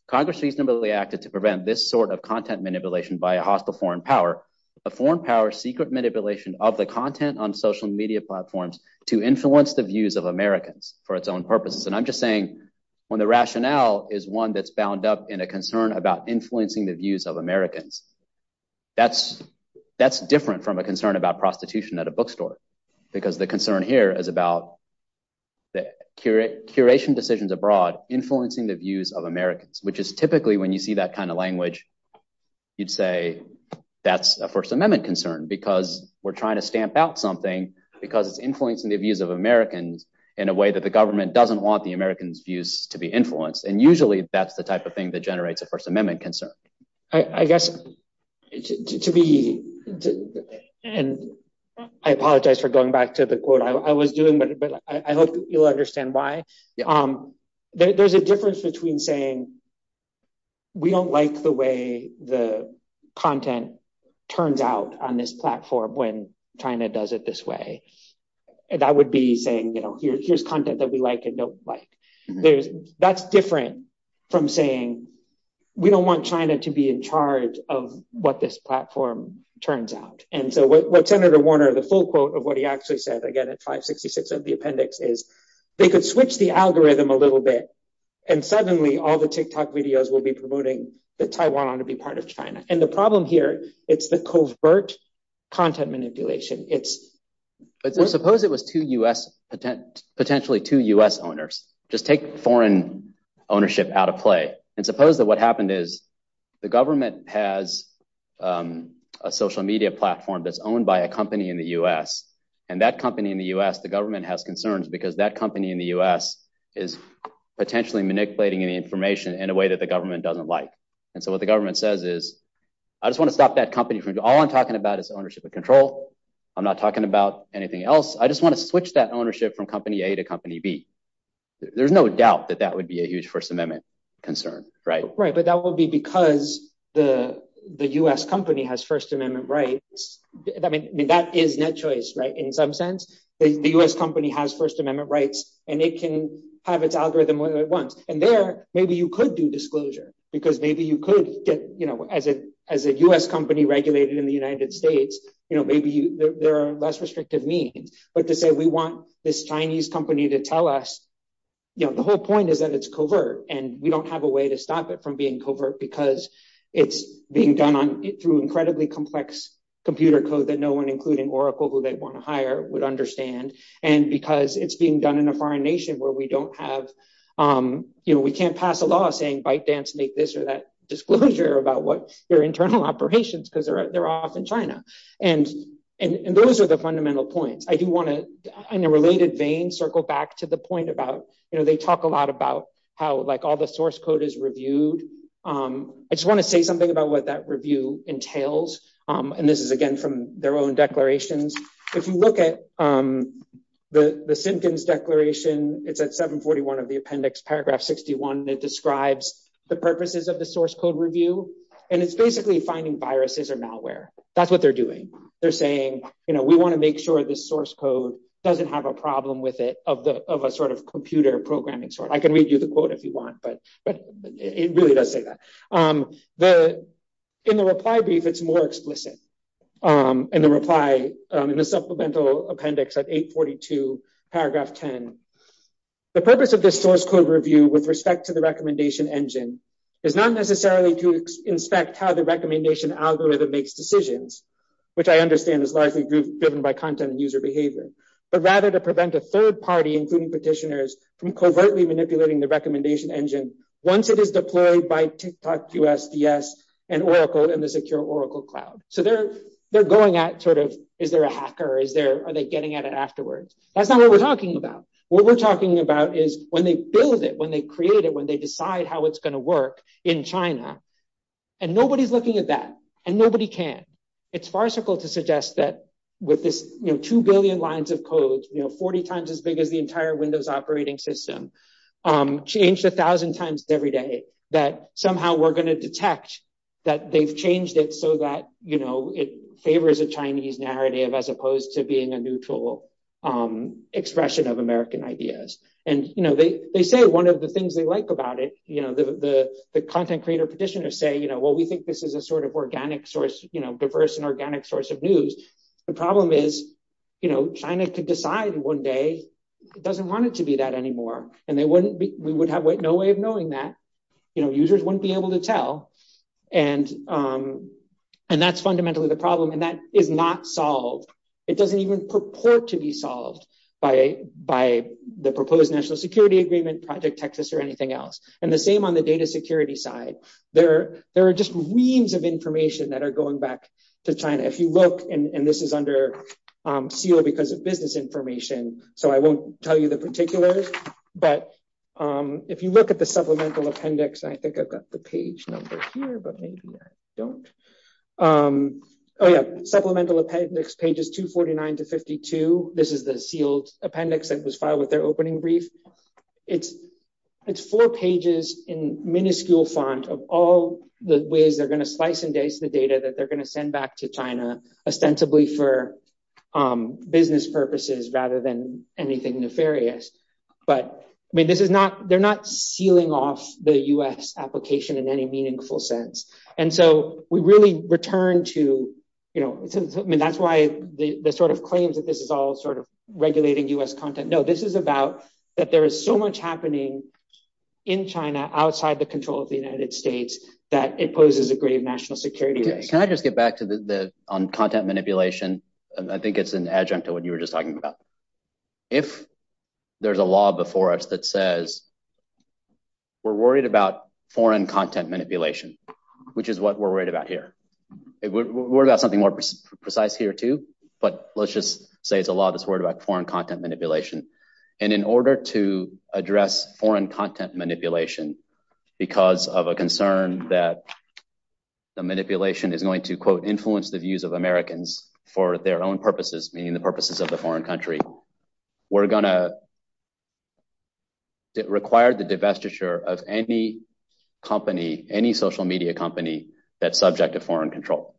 Congress reasonably acted to prevent this sort of content manipulation by a hostile foreign power, a foreign power's secret manipulation of the content on social media platforms to influence the views of Americans for its own purposes. And I'm just saying when the rationale is one that's bound up in a concern about influencing the views of Americans, that's different from a concern about prostitution at a bookstore because the concern here is about curation decisions abroad influencing the views of Americans, which is typically, when you see that kind of language, you'd say that's a First Amendment concern because we're trying to stamp out something because it's influencing the views of Americans in a way that the government doesn't want to see. It doesn't want the Americans' views to be influenced. And usually that's the type of thing that generates a First Amendment concern. I apologize for going back to the quote I was doing, but I hope you'll understand why. There's a difference between saying we don't like the way the content turns out on this platform when China does it this way. That would be saying here's content that we like and don't like. That's different from saying we don't want China to be in charge of what this platform turns out. And so what Senator Warner, the full quote of what he actually said, again, it's 566 of the appendix, is they could switch the algorithm a little bit and suddenly all the TikTok videos will be promoting that Taiwan ought to be part of China. And the problem here, it's the covert content manipulation. Suppose it was potentially two U.S. owners. Just take foreign ownership out of play. And suppose that what happened is the government has a social media platform that's owned by a company in the U.S., and that company in the U.S., the government has concerns because that company in the U.S. is potentially manipulating any information in a way that the government doesn't like. And so what the government says is, I just want to stop that company from, all I'm talking about is ownership and control. I'm not talking about anything else. I just want to switch that ownership from company A to company B. There's no doubt that that would be a huge First Amendment concern. Right. But that will be because the U.S. company has First Amendment rights. I mean, that is net choice, right? In some sense, the U.S. company has First Amendment rights and it can have its algorithm when it wants. And there, maybe you could do disclosure because maybe you could, as a U.S. company regulated in the United States, maybe there are less restrictive means. But to say we want this Chinese company to tell us, you know, the whole point is that it's covert and we don't have a way to stop it from being covert because it's being done through incredibly complex computer code that no one, including Oracle, who they want to hire, would understand. And because it's being done in a foreign nation where we don't have, you know, we can't pass a law saying ByteDance make this or that disclosure about what their internal operations because they're off in China. And those are the fundamental points. I do want to, in a related vein, circle back to the point about, you know, they talk a lot about how like all the source code is reviewed. I just want to say something about what that review entails. And this is, again, from their own declarations. If you look at the Simpkins declaration, it's at 741 of the appendix, paragraph 61. It describes the purposes of the source code review and it's basically finding viruses or malware. That's what they're doing. They're saying, you know, we want to make sure the source code doesn't have a problem with it of a sort of computer programming. I can read you the quote if you want, but it really does say that. In the reply brief, it's more explicit. In the reply, in the supplemental appendix at 842, paragraph 10. The purpose of this source code review with respect to the recommendation engine is not necessarily to inspect how the recommendation algorithm makes decisions, which I understand is largely driven by content and user behavior, but rather to prevent a third party, including petitioners, from covertly manipulating the recommendation engine once it is deployed by TikTok, USDS, and Oracle and the secure Oracle cloud. So they're going at sort of, is there a hacker? Are they getting at it afterwards? That's not what we're talking about. What we're talking about is when they build it, when they create it, when they decide how it's going to work in China, and nobody's looking at that, and nobody can. It's farcical to suggest that with this, you know, 2 billion lines of code, you know, 40 times as big as the entire Windows operating system, changed a thousand times every day, that somehow we're going to detect that they've changed it so that, you know, it favors a Chinese narrative as opposed to being a neutral expression of American ideas. And, you know, they say one of the things they like about it, you know, the content creator petitioners say, you know, well, we think this is a sort of organic source, you know, diverse and organic source of news. The problem is, you know, China could decide one day it doesn't want it to be that anymore. And they wouldn't be, we would have no way of knowing that, you know, users wouldn't be able to tell. And that's fundamentally the problem, and that is not solved. It doesn't even purport to be solved by the proposed national security agreement, Project Texas, or anything else. And the same on the data security side. There are just reams of information that are going back to China. If you look, and this is under seal because of business information, so I won't tell you the particulars, but if you look at the supplemental appendix, I think I've got the page number. Oh yeah, supplemental appendix pages 249 to 52. This is the sealed appendix that was filed with their opening brief. It's four pages in minuscule font of all the ways they're going to slice and dice the data that they're going to send back to China, ostensibly for business purposes rather than anything nefarious. But they're not sealing off the U.S. application in any meaningful sense. And so we really return to, you know, that's why the sort of claims that this is all sort of regulating U.S. content. No, this is about that there is so much happening in China outside the control of the United States that it poses a grave national security risk. Can I just get back to the content manipulation? I think it's an adjunct to what you were just talking about. If there's a law before us that says we're worried about foreign content manipulation, which is what we're worried about here. We've got something more precise here too, but let's just say it's a law that's worried about foreign content manipulation. And in order to address foreign content manipulation, because of a concern that the manipulation is going to quote influence the views of Americans for their own purposes, meaning the purposes of the foreign country, we're going to require the divestiture of any company, any social media company that's subject to foreign content manipulation.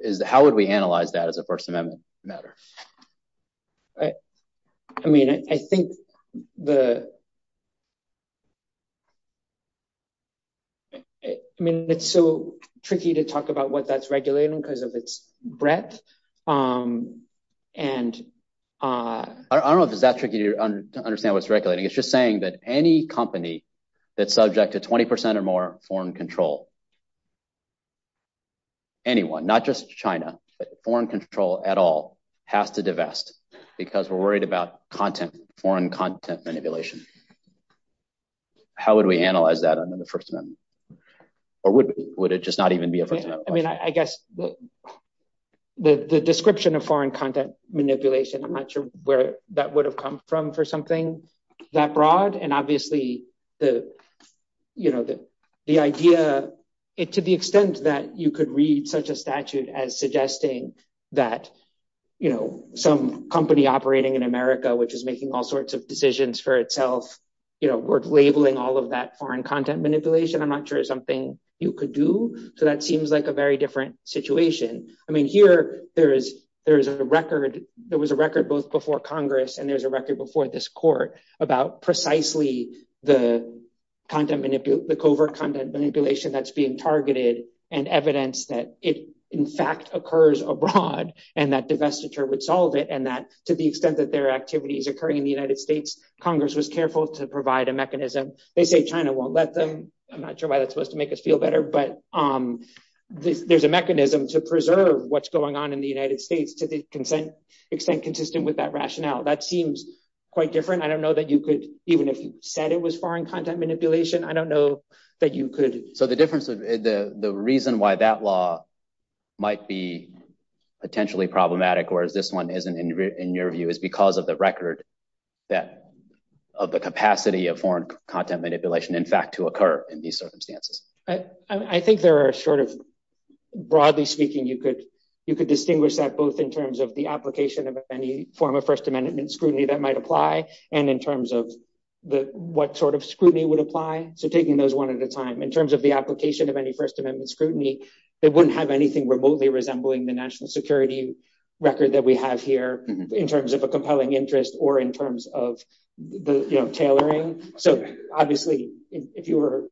Foreign control. How would we analyze that as a First Amendment matter? I mean, I think the. I mean, it's so tricky to talk about what that's regulating because of its breadth. I don't know if it's that tricky to understand what's regulating. It's just saying that any company that's subject to 20 percent or more foreign control. Anyone, not just China, but foreign control at all has to divest because we're worried about content, foreign content manipulation. How would we analyze that under the First Amendment? Or would it just not even be a First Amendment? I mean, I guess the description of foreign content manipulation, I'm not sure where that would have come from for something that broad. And obviously the, you know, the idea to the extent that you could read such a statute as suggesting that, you know, some company operating in America, which is making all sorts of decisions for itself, you know, we're labeling all of that foreign content manipulation. I'm not sure it's something you could do. So that seems like a very different situation. I mean, here there is there is a record. There was a record both before Congress and there's a record before this court about precisely the content, the covert content manipulation that's being targeted and evidence that it in fact occurs abroad and that divestiture would solve it. And that to the extent that their activity is occurring in the United States, Congress was careful to provide a mechanism. They say China won't let them. I'm not sure why that's supposed to make us feel better, but there's a mechanism to preserve what's going on in the United States to the extent consistent with that rationale. That seems quite different. I don't know that you could, even if you said it was foreign content manipulation, I don't know that you could. So the difference, the reason why that law might be potentially problematic, whereas this one isn't, in your view, is because of the record that of the capacity of foreign content manipulation, in fact, to occur in these circumstances. I think there are sort of, broadly speaking, you could distinguish that both in terms of the application of any form of First Amendment scrutiny that might apply and in terms of what sort of scrutiny would apply. So taking those one at a time, in terms of the application of any First Amendment scrutiny, it wouldn't have anything remotely resembling the national security record that we have here in terms of a compelling interest or in terms of the tailoring. So obviously, if you were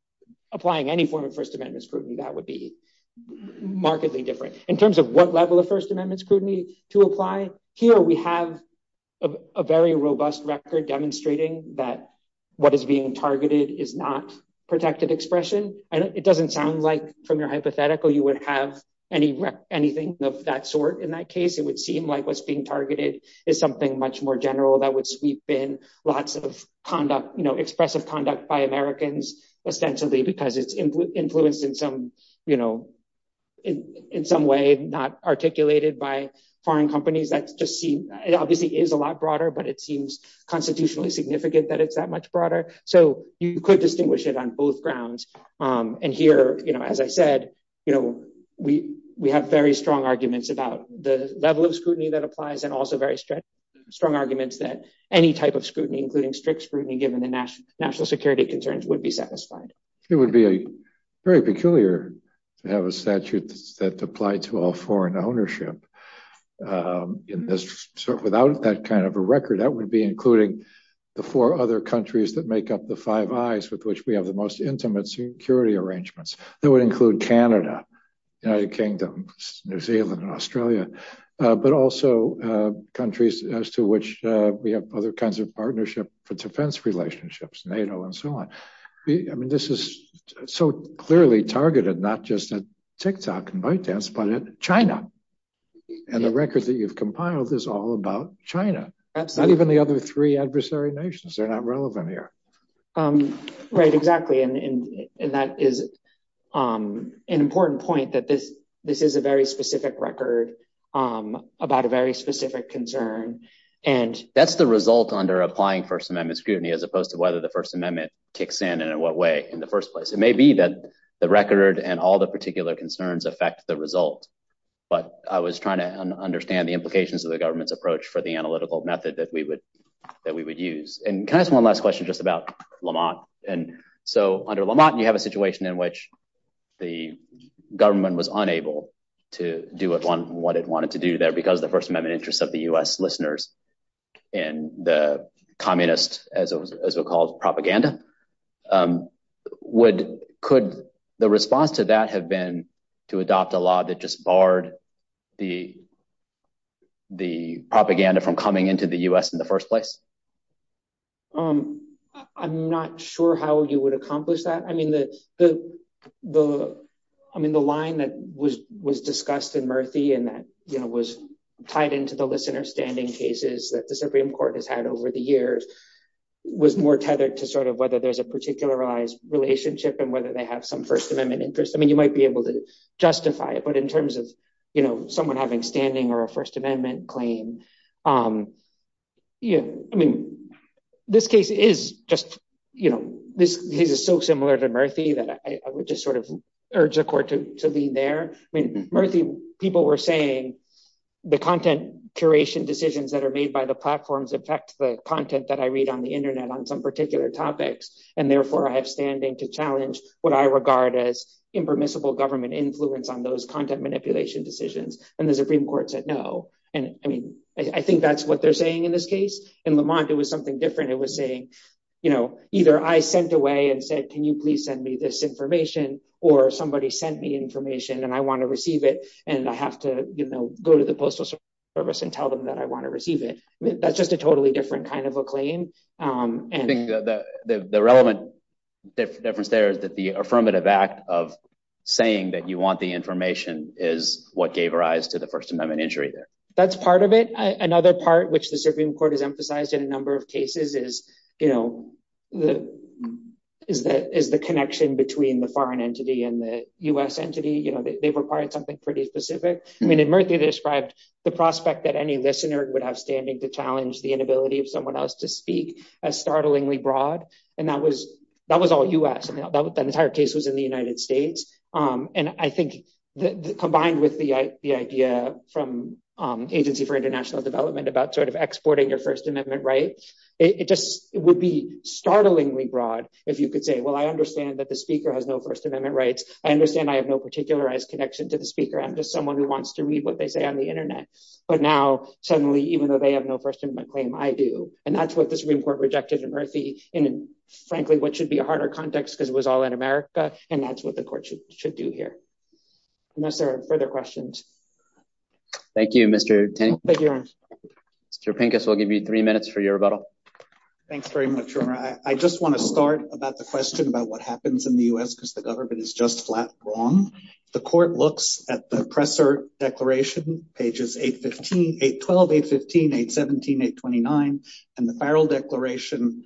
applying any form of First Amendment scrutiny, that would be markedly different. In terms of what level of First Amendment scrutiny to apply, here we have a very robust record demonstrating that what is being targeted is not protective expression. And it doesn't sound like, from your hypothetical, you would have anything of that sort in that case. It would seem like what's being targeted is something much more general that would sweep in lots of conduct, expressive conduct by Americans, essentially, because it's influenced in some way, not articulated by foreign companies. It obviously is a lot broader, but it seems constitutionally significant that it's that much broader. So you could distinguish it on both grounds. And here, as I said, we have very strong arguments about the level of scrutiny that applies and also very strong arguments that any type of scrutiny, including strict scrutiny, given the national security concerns, would be satisfied. It would be very peculiar to have a statute that applied to all foreign ownership in this. So without that kind of a record, that would be including the four other countries that make up the five I's with which we have the most intimate security arrangements. That would include Canada, United Kingdom, New Zealand, and Australia, but also countries as to which we have other kinds of partnership for defense relationships, NATO, and so on. I mean, this is so clearly targeted, not just at TikTok and ByteDance, but in China. And the record that you've compiled is all about China, not even the other three adversary nations. They're not relevant here. Right, exactly. And that is an important point that this is a very specific record about a very specific concern. And that's the result under applying First Amendment scrutiny, as opposed to whether the First Amendment kicks in and in what way in the first place. It may be that the record and all the particular concerns affect the results. But I was trying to understand the implications of the government's approach for the analytical method that we would use. And can I ask one last question just about Lamont? So under Lamont, you have a situation in which the government was unable to do what it wanted to do there because of the First Amendment interests of the U.S. listeners and the communist, as it was called, propaganda. Could the response to that have been to adopt a law that just barred the propaganda from coming into the U.S. in the first place? I'm not sure how you would accomplish that. I mean, the line that was discussed in Murphy and that was tied into the listener standing cases that the Supreme Court has had over the years was more tethered to sort of whether there's a particularized relationship and whether they have some First Amendment interest. I mean, you might be able to justify it, but in terms of, you know, someone having standing or a First Amendment claim, you know, I mean, this case is just, you know, this is so similar to Murphy that I would just sort of urge the court to lean there. I mean, Murphy, people were saying the content curation decisions that are made by the platforms affect the content that I read on the Internet on some particular topics, and therefore I have standing to challenge what I regard as impermissible government influence on those content manipulation decisions. And the Supreme Court said no, and I mean, I think that's what they're saying in this case. In Lamont, it was something different. It was saying, you know, either I sent away and said, can you please send me this information or somebody sent me information and I want to receive it and I have to go to the Postal Service and tell them that I want to receive it. That's just a totally different kind of a claim. I think the relevant difference there is that the affirmative act of saying that you want the information is what gave rise to the First Amendment injury there. That's part of it. Another part which the Supreme Court has emphasized in a number of cases is, you know, is the connection between the foreign entity and the U.S. entity. You know, they require something pretty specific. I mean, in Murphy they described the prospect that any listener would have standing to challenge the inability of someone else to speak as startlingly broad, and that was all U.S. The entire case was in the United States. And I think combined with the idea from Agency for International Development about sort of exporting their First Amendment rights, it just would be startlingly broad if you could say, well, I understand that the speaker has no First Amendment rights. I understand I have no particularized connection to the speaker. I'm just someone who wants to read what they say on the Internet. But now, suddenly, even though they have no First Amendment claim, I do. And that's what the Supreme Court rejected in Murphy, and frankly, what should be a harder context because it was all in America, and that's what the court should do here. Unless there are further questions. Thank you, Mr. Pinkus. Mr. Pinkus will give you three minutes for your rebuttal. Thanks very much. I just want to start about the question about what happens in the U.S. because the government is just flat wrong. The court looks at the Presser Declaration, pages 812, 815, 817, 829, and the Farrell Declaration,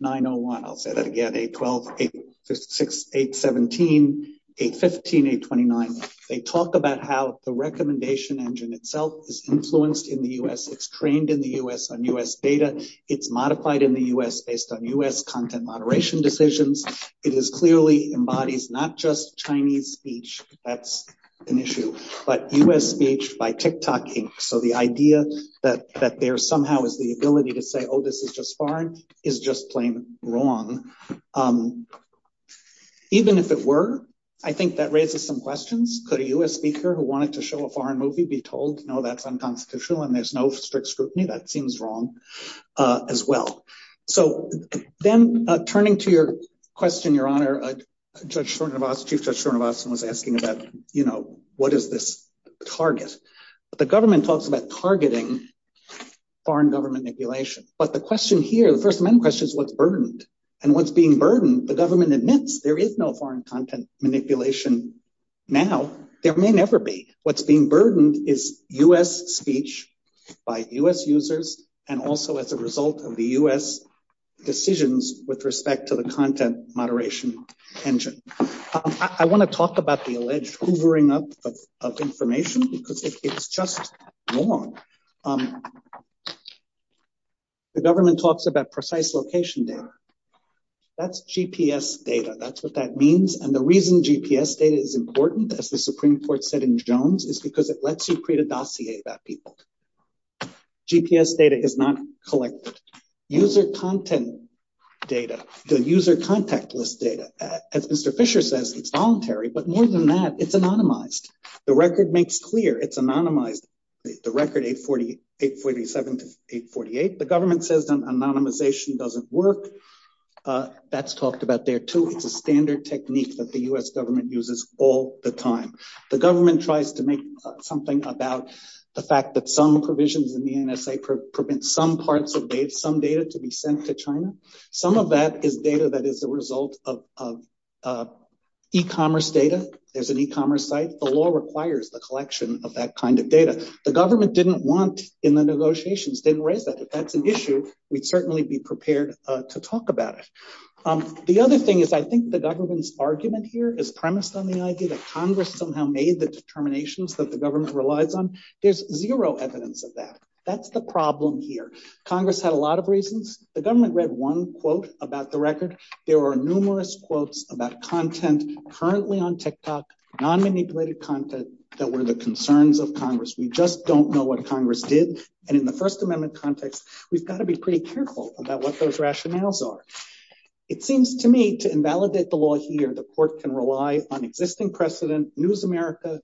901, I'll say that again, 812, 816, 817, 815, 829. They talk about how the recommendation engine itself is influenced in the U.S., it's trained in the U.S. on U.S. data, it's modified in the U.S. based on U.S. content moderation decisions. It clearly embodies not just Chinese speech, that's an issue, but U.S. speech by TikToking. So the idea that there somehow is the ability to say, oh, this is just foreign, is just plain wrong. Even if it were, I think that raises some questions. Could a U.S. speaker who wanted to show a foreign movie be told, no, that's unconstitutional and there's no strict scrutiny, that seems wrong as well. So then turning to your question, Your Honor, Chief Judge Schwerner-Ross was asking about, you know, what is this target? The government talks about targeting foreign government manipulation, but the question here, the first main question is what's burdened? And what's being burdened, the government admits there is no foreign content manipulation now, there may never be. What's being burdened is U.S. speech by U.S. users and also as a result of the U.S. decisions with respect to the content moderation pension. I want to talk about the alleged hoovering up of information because it's just wrong. The government talks about precise location there. That's GPS data, that's what that means. And the reason GPS data is important, as the Supreme Court said in Jones, is because it lets you create a dossier about people. GPS data is not collected. User content data, the user contact list data, as Mr. Fisher says, it's voluntary, but more than that, it's anonymized. The record makes clear it's anonymized, the record 847 to 848. The government says anonymization doesn't work. That's talked about there too. It's a standard technique that the U.S. government uses all the time. The government tries to make something about the fact that some provisions in the NSA prevent some parts of some data to be sent to China. Some of that is data that is a result of e-commerce data. There's an e-commerce site. The law requires the collection of that kind of data. The government didn't want in the negotiations, didn't raise that. If that's an issue, we'd certainly be prepared to talk about it. The other thing is I think the government's argument here is premised on the idea that Congress somehow made the determinations that the government relies on. There's zero evidence of that. That's the problem here. Congress had a lot of reasons. The government read one quote about the record. There are numerous quotes about content currently on TikTok, non-manipulated content that were the concerns of Congress. We just don't know what Congress did. And in the First Amendment context, we've got to be pretty careful about what those rationales are. It seems to me to invalidate the law here, the court can rely on existing precedent, News America,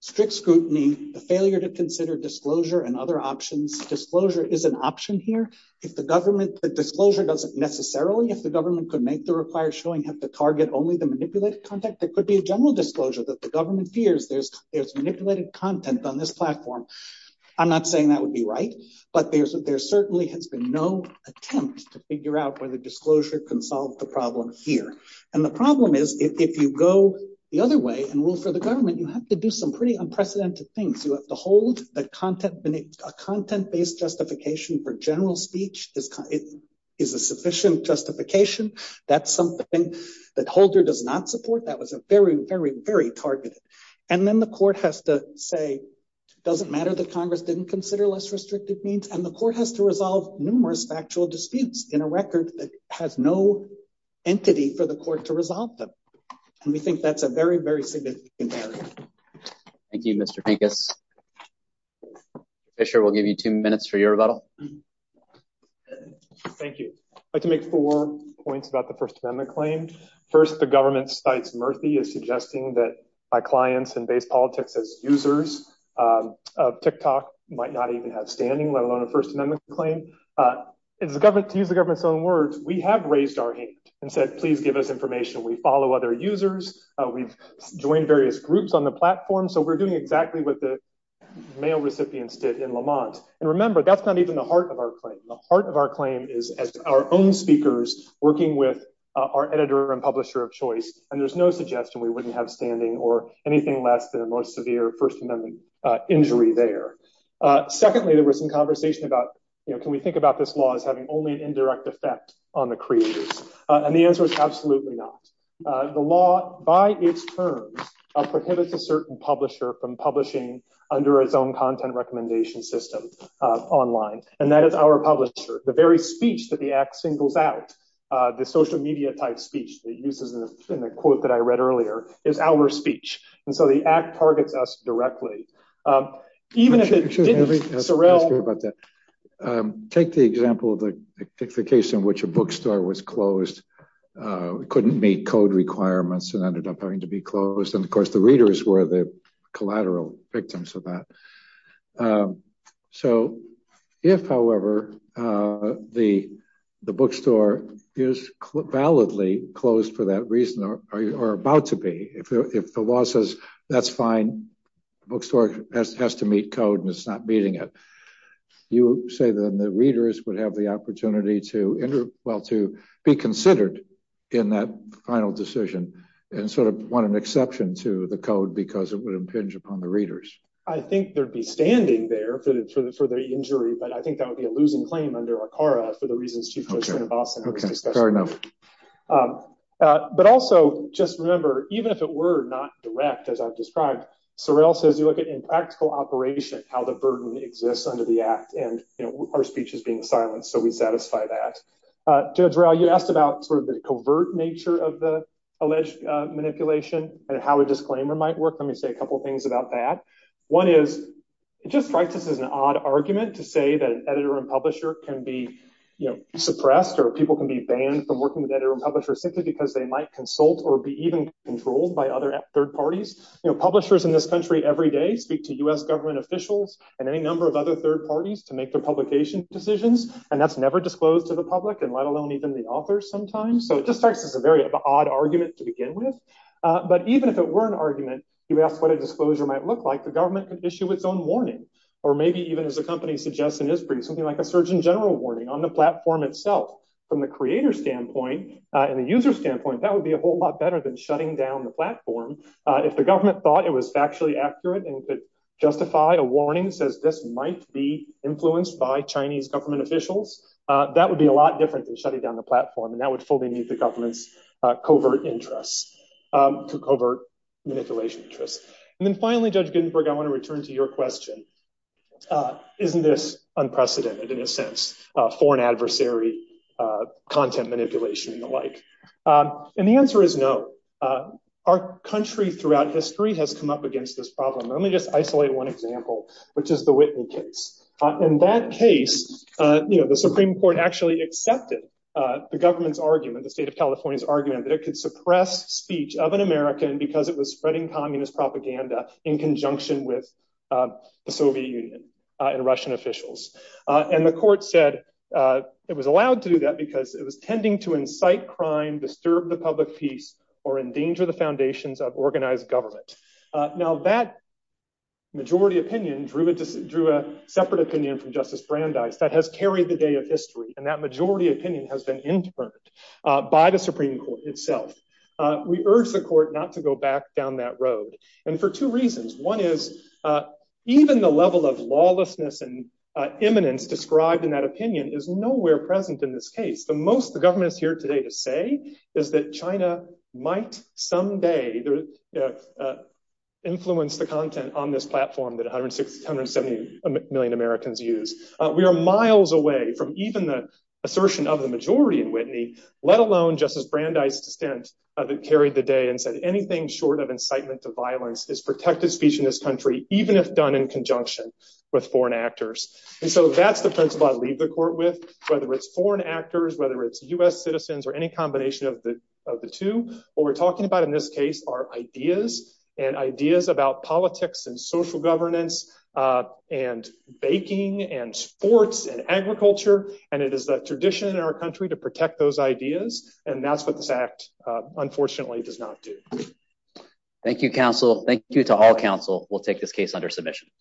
strict scrutiny, a failure to consider disclosure and other options. Disclosure is an option here. If the government, disclosure doesn't necessarily, if the government could make the required showing of the target only the manipulated content, there could be a general disclosure that the government fears there's manipulated content on this platform. I'm not saying that would be right, but there certainly has been no attempt to figure out whether disclosure can solve the problem here. And the problem is, if you go the other way and rule for the government, you have to do some pretty unprecedented things. You have to hold that a content-based justification for general speech is a sufficient justification. That's something that Holder does not support. That was a very, very, very targeted. And then the court has to say, does it matter that Congress didn't consider less restrictive means? And the court has to resolve numerous factual disputes in a record that has no entity for the court to resolve them. And we think that's a very, very significant thing. Thank you, Mr. Pinkus. Fisher, we'll give you two minutes for your rebuttal. Thank you. I can make four points about the First Amendment claim. First, the government, despite Murphy, is suggesting that my clients and based politics as users of TikTok might not even have standing, let alone a First Amendment claim. To use the government's own words, we have raised our hand and said, please give us information. We follow other users. We've joined various groups on the platform. So we're doing exactly what the mail recipients did in Lamont. And remember, that's not even the heart of our claim. The heart of our claim is our own speakers working with our editor and publisher of choice. And there's no suggestion we wouldn't have standing or anything less than the most severe First Amendment injury there. Secondly, there was some conversation about, can we think about this law as having only indirect effect on the creators? And the answer is absolutely not. The law, by its terms, prohibits a certain publisher from publishing under its own content recommendation system online. And that is our publisher. The very speech that the act singles out, the social media type speech that uses a quote that I read earlier, is our speech. And so the act targets us directly. Take the example of the case in which a bookstore was closed, couldn't meet code requirements and ended up having to be closed. And of course, the readers were the collateral victims of that. So if, however, the bookstore is validly closed for that reason or about to be, if the law says that's fine, the bookstore has to meet code and it's not meeting it. You say that the readers would have the opportunity to enter, well, to be considered in that final decision and sort of want an exception to the code because it would impinge upon the readers. I think there'd be standing there for the injury, but I think that would be a losing claim under ACARA for the reasons she put in Boston. But also just remember, even if it were not direct, as I've described, Sorrell says you look at impractical operation, how the burden exists under the act and our speech is being silenced. So we satisfy that. Deirdre, you asked about sort of the covert nature of the alleged manipulation and how a disclaimer might work. Let me say a couple of things about that. One is it just strikes us as an odd argument to say that an editor and publisher can be suppressed or people can be banned from working with editors and publishers simply because they might consult or be even controlled by other third parties. Publishers in this country every day speak to U.S. government officials and any number of other third parties to make their publication decisions, and that's never disclosed to the public and let alone even the authors sometimes. So it just strikes us as a very odd argument to begin with. But even if it were an argument, you ask what a disclosure might look like, the government could issue its own warning or maybe even, as the company suggests in this brief, something like a Surgeon General warning on the platform itself. From the creator's standpoint and the user's standpoint, that would be a whole lot better than shutting down the platform. If the government thought it was factually accurate and could justify a warning that says this might be influenced by Chinese government officials, that would be a lot different than shutting down the platform. And that would fully meet the government's covert interests, covert manipulation interests. And then finally, Judge Gittenberg, I want to return to your question. Isn't this unprecedented in a sense, foreign adversary content manipulation and the like? And the answer is no. Our country throughout history has come up against this problem. Let me just isolate one example, which is the Whitney case. In that case, the Supreme Court actually accepted the government's argument, the state of California's argument, that it could suppress speech of an American because it was spreading communist propaganda in conjunction with the Soviet Union and Russian officials. And the court said it was allowed to do that because it was tending to incite crime, disturb the public peace, or endanger the foundations of organized government. Now, that majority opinion drew a separate opinion from Justice Brandeis that has carried the day of history. And that majority opinion has been inferred by the Supreme Court itself. We urge the court not to go back down that road. And for two reasons. One is even the level of lawlessness and eminence described in that opinion is nowhere present in this case. The most the government is here today to say is that China might someday influence the content on this platform that 170 million Americans use. We are miles away from even the assertion of the majority in Whitney, let alone Justice Brandeis' dissent of it carried the day and said anything short of incitement to violence is protected speech in this country, even if done in conjunction with foreign actors. And so that's the principle I leave the court with, whether it's foreign actors, whether it's U.S. citizens, or any combination of the two. What we're talking about in this case are ideas and ideas about politics and social governance and baking and sports and agriculture. And it is the tradition in our country to protect those ideas. And that's what this act unfortunately does not do. Thank you, counsel. Thank you to all counsel. We'll take this case under submission.